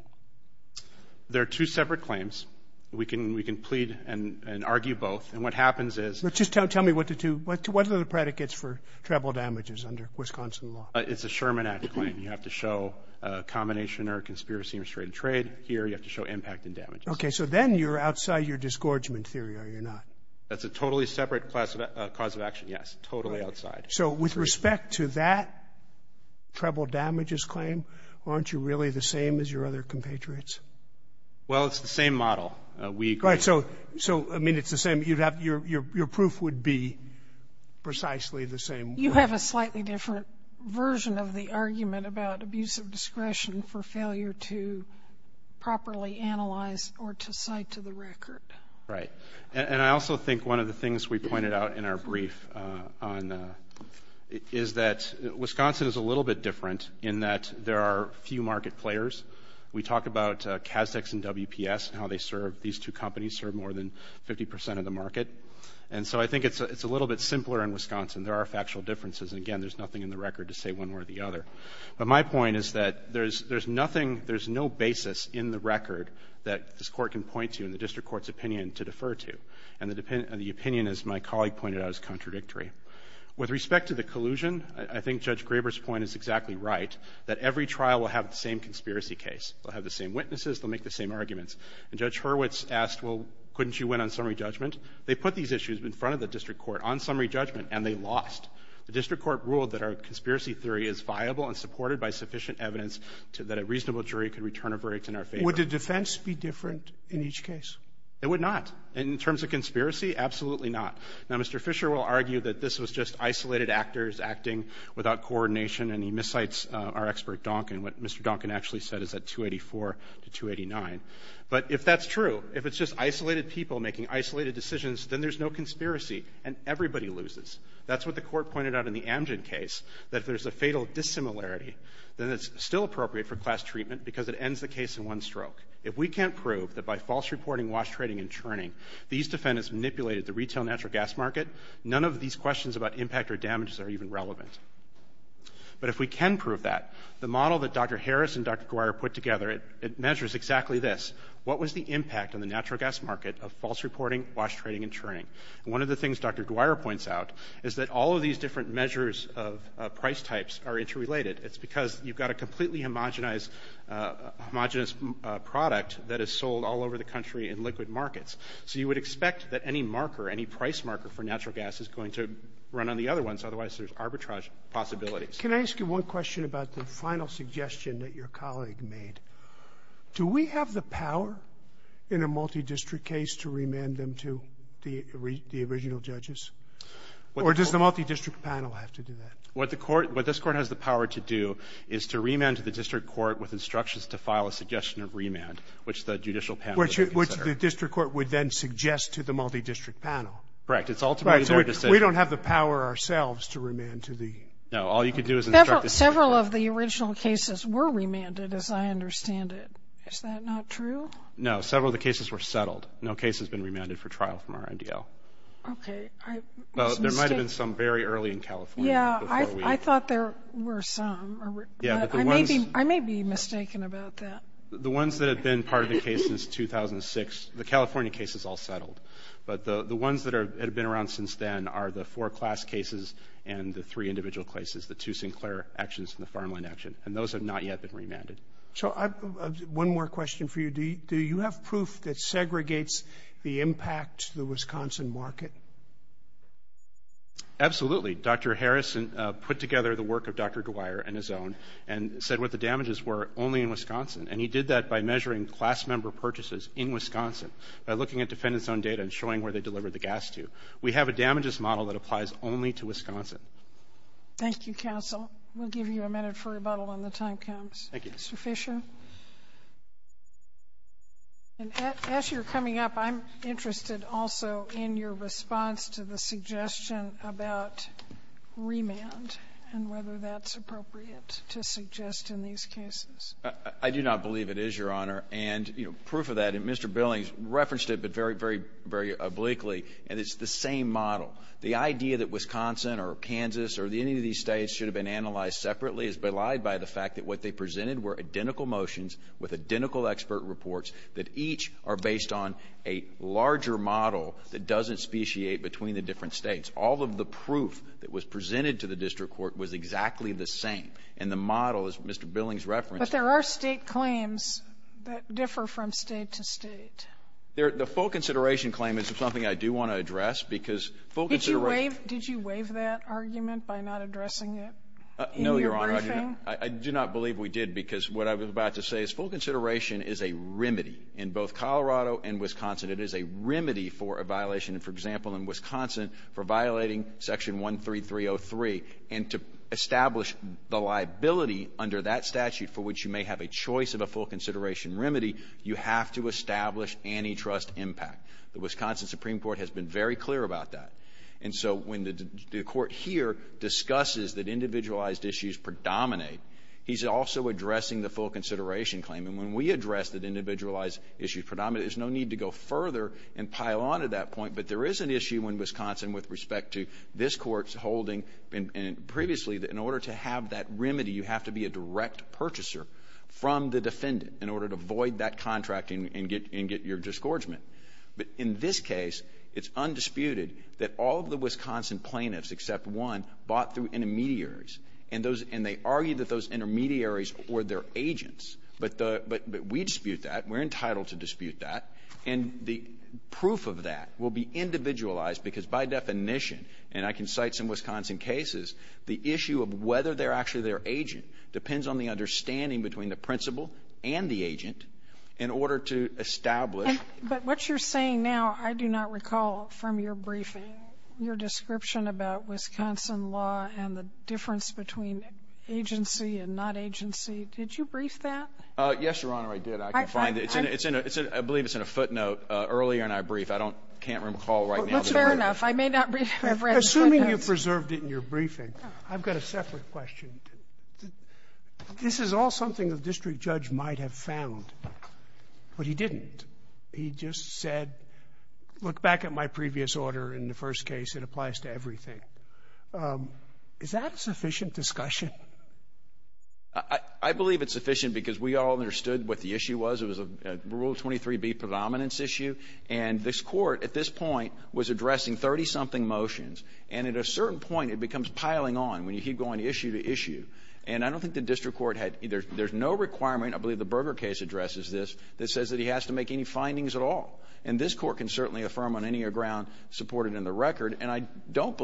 There are two separate claims. We can plead and argue both, and what happens is – Just tell me what the two – what are the predicates for treble damages under Wisconsin law? It's a Sherman Act claim. You have to show a combination or a conspiracy or a straight trade. Here you have to show impact and damage. Okay, so then you're outside your disgorgement theory, are you not? That's a totally separate cause of action, yes, totally outside. So with respect to that treble damages claim, aren't you really the same as your other compatriots? Well, it's the same model. Right, so, I mean, it's the same. Your proof would be precisely the same. You have a slightly different version of the argument about abuse of discretion for failure to properly analyze or to cite to the record. Right. And I also think one of the things we pointed out in our brief is that Wisconsin is a little bit different in that there are few market players. We talk about Casdex and WPS and how they serve. These two companies serve more than 50 percent of the market. And so I think it's a little bit simpler in Wisconsin. There are factual differences. Again, there's nothing in the record to say one or the other. But my point is that there's nothing, there's no basis in the record that this court can point to in the district court's opinion to defer to. And the opinion, as my colleague pointed out, is contradictory. With respect to the collusion, I think Judge Graber's point is exactly right, that every trial will have the same conspiracy case. They'll have the same witnesses. They'll make the same arguments. And Judge Hurwitz asked, well, couldn't you win on summary judgment? They put these issues in front of the district court on summary judgment, and they lost. The district court ruled that our conspiracy theory is viable and supported by sufficient evidence that a reasonable jury could return a break in our favor. Would the defense be different in each case? It would not. In terms of conspiracy, absolutely not. Now, Mr. Fisher will argue that this was just isolated actors acting without coordination, and he miscites our expert, Duncan. What Mr. Duncan actually said is that 284 to 289. But if that's true, if it's just isolated people making isolated decisions, then there's no conspiracy, and everybody loses. That's what the court pointed out in the Amgen case, that there's a fatal dissimilarity. Then it's still appropriate for class treatment because it ends the case in one stroke. If we can't prove that by false reporting, wash trading, and churning, these defendants manipulated the retail natural gas market, none of these questions about impact or damages are even relevant. But if we can prove that, the model that Dr. Harris and Dr. Guire put together, it measures exactly this. What was the impact on the natural gas market of false reporting, wash trading, and churning? One of the things Dr. Guire points out is that all of these different measures of price types are interrelated. It's because you've got a completely homogenized product that is sold all over the country in liquid markets. So you would expect that any marker, any price marker for natural gas is going to run on the other ones, otherwise there's arbitrage possibilities. Can I ask you one question about the final suggestion that your colleague made? Do we have the power in a multidistrict case to remand them to the original judges? Or does the multidistrict panel have to do that? What this court has the power to do is to remand to the district court with instructions to file a suggestion of remand, which the judicial panel would consider. Which the district court would then suggest to the multidistrict panel. Right. We don't have the power ourselves to remand to the... No, all you can do is instruct... Several of the original cases were remanded as I understand it. Is that not true? No, several of the cases were settled. No case has been remanded for trial from our NDL. Okay. There might have been some very early in California. Yeah, I thought there were some. I may be mistaken about that. The ones that have been part of the case since 2006, the California case is all settled. But the ones that have been around since then are the four class cases and the three individual cases, the two Sinclair actions and the Farmland action. And those have not yet been remanded. One more question for you. Do you have proof that segregates the impact to the Wisconsin market? Absolutely. Dr. Harrison put together the work of Dr. Dwyer and his own and said what the damages were only in Wisconsin. And he did that by measuring class number purchases in Wisconsin. By looking at dependence on data and showing where they delivered the gas to. We have a damages model that applies only to Wisconsin. Thank you, counsel. We'll give you a minute for rebuttal when the time comes. Thank you. Mr. Fisher? As you're coming up, I'm interested also in your response to the suggestion about remand and whether that's appropriate to suggest in these cases. I do not believe it is, Your Honor. And proof of that, Mr. Billings referenced it but very, very obliquely, and it's the same model. The idea that Wisconsin or Kansas or any of these states should have been analyzed separately is belied by the fact that what they presented were identical motions with identical expert reports that each are based on a larger model that doesn't speciate between the different states. All of the proof that was presented to the district court was exactly the same. And the model, as Mr. Billings referenced. But there are state claims that differ from state to state. The full consideration claim is something I do want to address because full consideration Did you waive that argument by not addressing it? No, Your Honor. I do not believe we did because what I was about to say is full consideration is a remedy in both Colorado and Wisconsin. It is a remedy for a violation, for example, in Wisconsin for violating Section 13303 and to establish the liability under that statute for which you may have a choice of a full consideration remedy, you have to establish antitrust impact. The Wisconsin Supreme Court has been very clear about that. And so when the court here discusses that individualized issues predominate, he's also addressing the full consideration claim. And when we address that individualized issues predominate, there's no need to go further and pile on to that point. But there is an issue in Wisconsin with respect to this court's holding previously that in order to have that remedy, you have to be a direct purchaser from the defendant in order to void that contract and get your disgorgement. But in this case, it's undisputed that all of the Wisconsin plaintiffs except one bought through intermediaries. And they argue that those intermediaries were their agents. But we dispute that. We're entitled to dispute that. And the proof of that will be individualized because by definition, and I can cite some Wisconsin cases, the issue of whether they're actually their agent depends on the understanding between the principal and the agent in order to establish. But what you're saying now, I do not recall from your briefing, your description about Wisconsin law and the difference between agency and not agency. Did you brief that? Yes, Your Honor, I did. I believe it's in a footnote earlier in our brief. I can't recall right now. That's fair enough. I may not remember. Assuming you preserved it in your briefing, I've got a separate question. This is all something the district judge might have found, but he didn't. He just said, look back at my previous order in the first case. It applies to everything. Is that sufficient discussion? I believe it's sufficient because we all understood what the issue was. It was a Rule 23B predominance issue. And this court, at this point, was addressing 30-something motions. And at a certain point, it becomes piling on when you keep going issue to issue. And I don't think the district court had either. There's no requirement, I believe the Berger case addresses this, that says that he has to make any findings at all. And this court can certainly affirm on any ground supported in the record. And I don't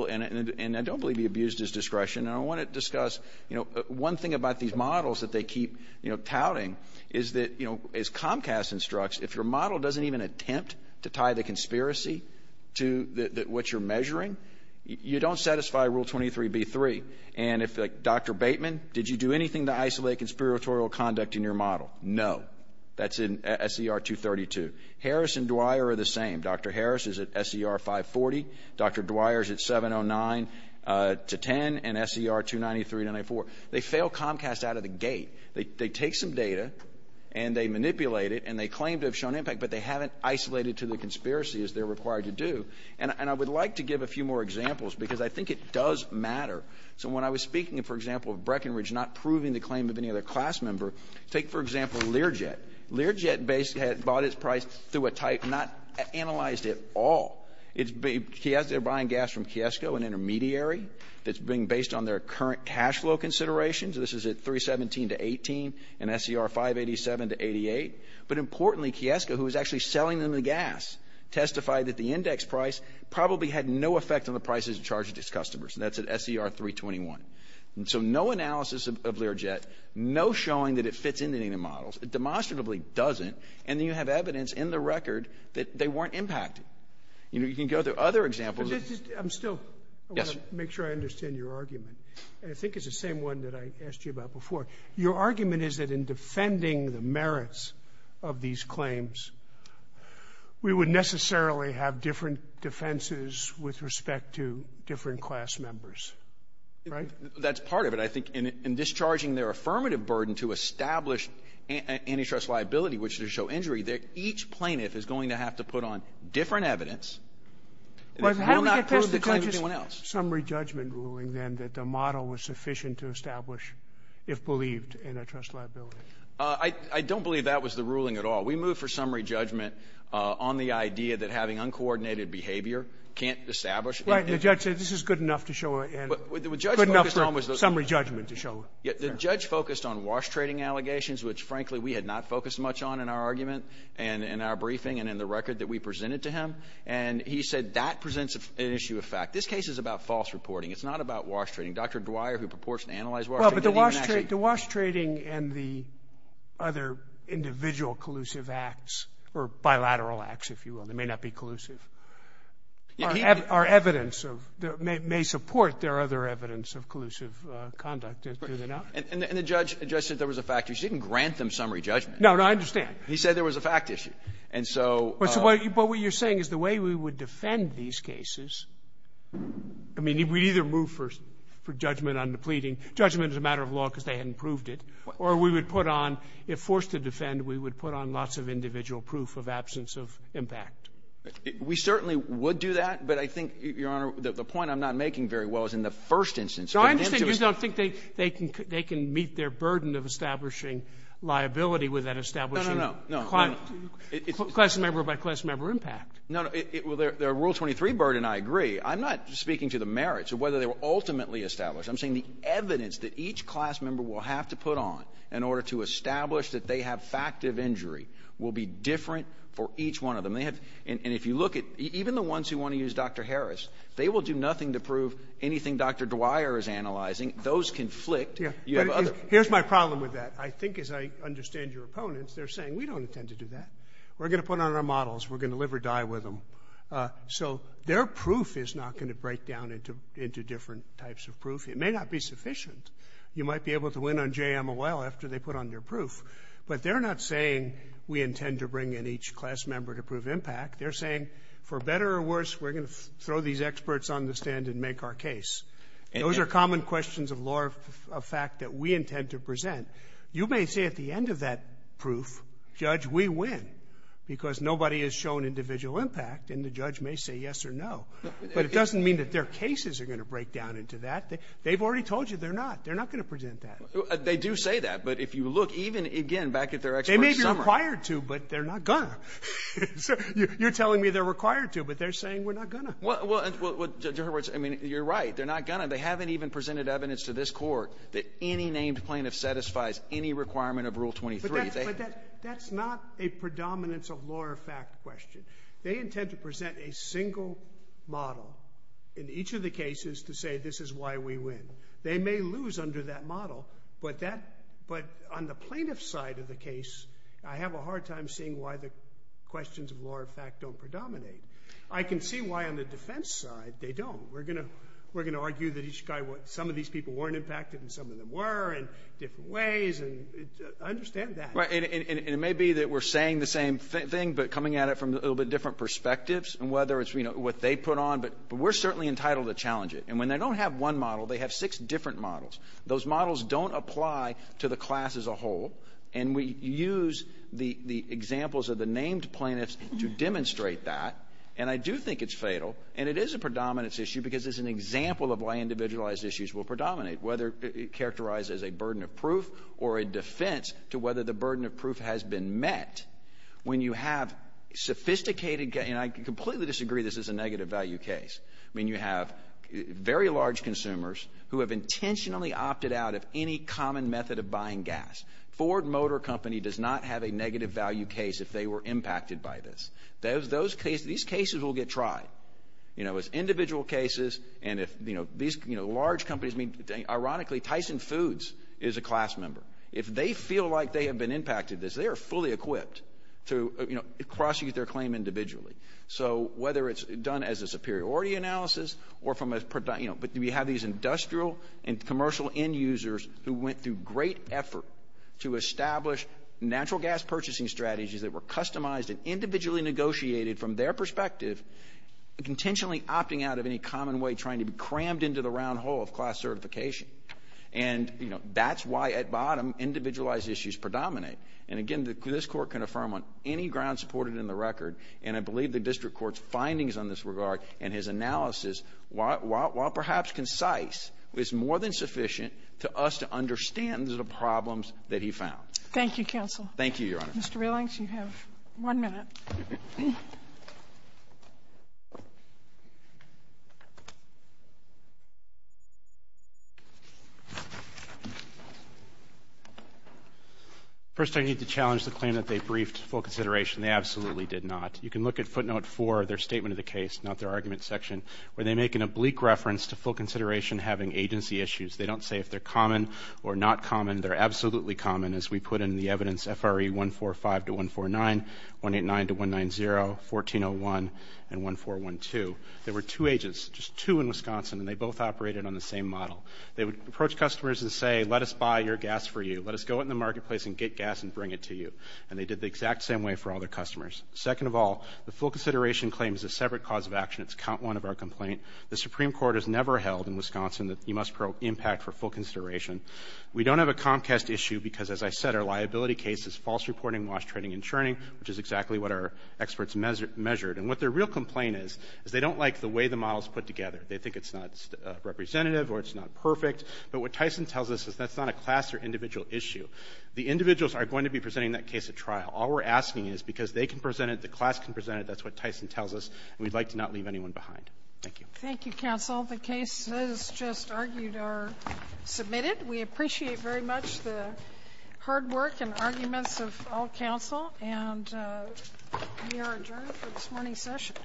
believe he abused his discretion. And I want to discuss one thing about these models that they keep touting is that, as Comcast instructs, if your model doesn't even attempt to tie the conspiracy to what you're measuring, you don't satisfy Rule 23B-3. And if Dr. Bateman, did you do anything to isolate conspiratorial conduct in your model? No. That's in SER 232. Harris and Dwyer are the same. Dr. Harris is at SER 540. Dr. Dwyer is at 709-10. And SER 293-984. They fail Comcast out of the gate. They take some data, and they manipulate it, and they claim to have shown impact, but they haven't isolated to the conspiracy as they're required to do. And I would like to give a few more examples because I think it does matter. So when I was speaking, for example, of Breckenridge not proving the claim of any other class member, take, for example, Learjet. Learjet basically had bought its price through a type not analyzed at all. They're buying gas from Kiesco, an intermediary, that's being based on their current cash flow considerations. This is at 317-18 and SER 587-88. But importantly, Kiesco, who was actually selling them the gas, testified that the index price probably had no effect on the prices charged to its customers. And that's at SER 321. So no analysis of Learjet, no showing that it fits into any of the models. It demonstrably doesn't, and you have evidence in the record that they weren't impacted. You can go to other examples. I'm still going to make sure I understand your argument, and I think it's the same one that I asked you about before. Your argument is that in defending the merits of these claims, we would necessarily have different defenses with respect to different class members, right? That's part of it. But I think in discharging their affirmative burden to establish antitrust liability, which is to show injury, that each plaintiff is going to have to put on different evidence. They will not prove the claim to anyone else. But how would you test the judgment in the summary judgment ruling, then, that the model was sufficient to establish, if believed, antitrust liability? I don't believe that was the ruling at all. We moved for summary judgment on the idea that having uncoordinated behavior can't establish liability. The judge said this is good enough for summary judgment to show. The judge focused on wash trading allegations, which, frankly, we had not focused much on in our argument and in our briefing and in the record that we presented to him. And he said that presents an issue of fact. This case is about false reporting. It's not about wash trading. Dr. Breuer, who purports to analyze wash trading. The wash trading and the other individual collusive acts, or bilateral acts, if you will, that may not be collusive, may support their other evidence of collusive conduct. And the judge said there was a fact issue. He didn't grant them summary judgment. No, no, I understand. He said there was a fact issue. But what you're saying is the way we would defend these cases, I mean, we either moved for judgment on the pleading. Judgment is a matter of law because they hadn't proved it. Or we would put on, if forced to defend, we would put on lots of individual proof of absence of impact. We certainly would do that. But I think, Your Honor, the point I'm not making very well is in the first instance. I understand you don't think they can meet their burden of establishing liability without establishing class member by class member impact. No, no. Well, their Rule 23 burden, I agree. I'm not speaking to the merits of whether they were ultimately established. I'm saying the evidence that each class member will have to put on in order to establish that they have fact of injury will be different for each one of them. And if you look at even the ones who want to use Dr. Harris, they will do nothing to prove anything Dr. Dwyer is analyzing. Those conflict. Here's my problem with that. I think, as I understand your opponents, they're saying we don't intend to do that. We're going to put on our models. We're going to live or die with them. So their proof is not going to break down into different types of proof. It may not be sufficient. You might be able to win on JM a while after they put on their proof. But they're not saying we intend to bring in each class member to prove impact. They're saying, for better or worse, we're going to throw these experts on the stand and make our case. Those are common questions of law of fact that we intend to present. You may say at the end of that proof, Judge, we win because nobody has shown individual impact, and the judge may say yes or no. But it doesn't mean that their cases are going to break down into that. They've already told you they're not. They're not going to present that. They do say that. But if you look, even, again, back at their experts. They may be required to, but they're not going to. You're telling me they're required to, but they're saying we're not going to. Well, in other words, I mean, you're right. They're not going to. They haven't even presented evidence to this Court that any named plaintiff satisfies any requirement of Rule 23. But that's not a predominance of law of fact question. They intend to present a single model in each of the cases to say this is why we win. They may lose under that model, but on the plaintiff's side of the case, I have a hard time seeing why the questions of law of fact don't predominate. I can see why on the defense side they don't. We're going to argue that some of these people weren't impacted and some of them were in different ways. Understand that. And it may be that we're saying the same thing but coming at it from a little bit different perspectives, and whether it's what they put on, but we're certainly entitled to challenge it. And when they don't have one model, they have six different models. Those models don't apply to the class as a whole, and we use the examples of the named plaintiffs to demonstrate that, and I do think it's fatal. And it is a predominance issue because it's an example of why individualized issues will predominate, whether characterized as a burden of proof or a defense to whether the burden of proof has been met. When you have sophisticated, and I completely disagree this is a negative value case, when you have very large consumers who have intentionally opted out of any common method of buying gas. Ford Motor Company does not have a negative value case if they were impacted by this. These cases will get tried. It's individual cases, and if these large companies, ironically Tyson Foods is a class member. If they feel like they have been impacted, they are fully equipped to cross-use their claim individually. So whether it's done as a superiority analysis, but we have these industrial and commercial end users who went through great effort to establish natural gas purchasing strategies that were customized and individually negotiated from their perspective and intentionally opting out of any common way trying to be crammed into the round hole of class certification. And that's why at bottom individualized issues predominate. And again, this court can affirm on any ground supported in the record, and I believe the district court's findings on this regard and his analysis, while perhaps concise, is more than sufficient to us to understand the problems that he found. Thank you, counsel. Thank you, Your Honor. Mr. Relance, you have one minute. First, I need to challenge the claim that they briefed full consideration. They absolutely did not. You can look at footnote 4 of their statement of the case, not their argument section, where they make an oblique reference to full consideration having agency issues. They don't say if they're common or not common. They're absolutely common, as we put in the evidence, FRE 145-149, 189-190, 1401, and 1412. They were two ages, just two in Wisconsin, and they both operated on the same model. They would approach customers and say, let us buy your gas for you. Let us go out in the marketplace and get gas and bring it to you. And they did the exact same way for all their customers. Second of all, the full consideration claim is a separate cause of action. It's count one of our complaint. The Supreme Court has never held in Wisconsin that you must probe impact for full consideration. We don't have a Comcast issue because, as I said, our liability case is false reporting, lost trading, and churning, which is exactly what our experts measured. And what their real complaint is is they don't like the way the model is put together. They think it's not representative or it's not perfect. But what Tyson tells us is that's not a class or individual issue. The individuals are going to be presenting that case at trial. All we're asking is because they can present it, the class can present it, that's what Tyson tells us, and we'd like to not leave anyone behind. Thank you. Thank you, counsel. The cases just argued are submitted. We appreciate very much the hard work and arguments of all counsel. And we are adjourned for this morning's session.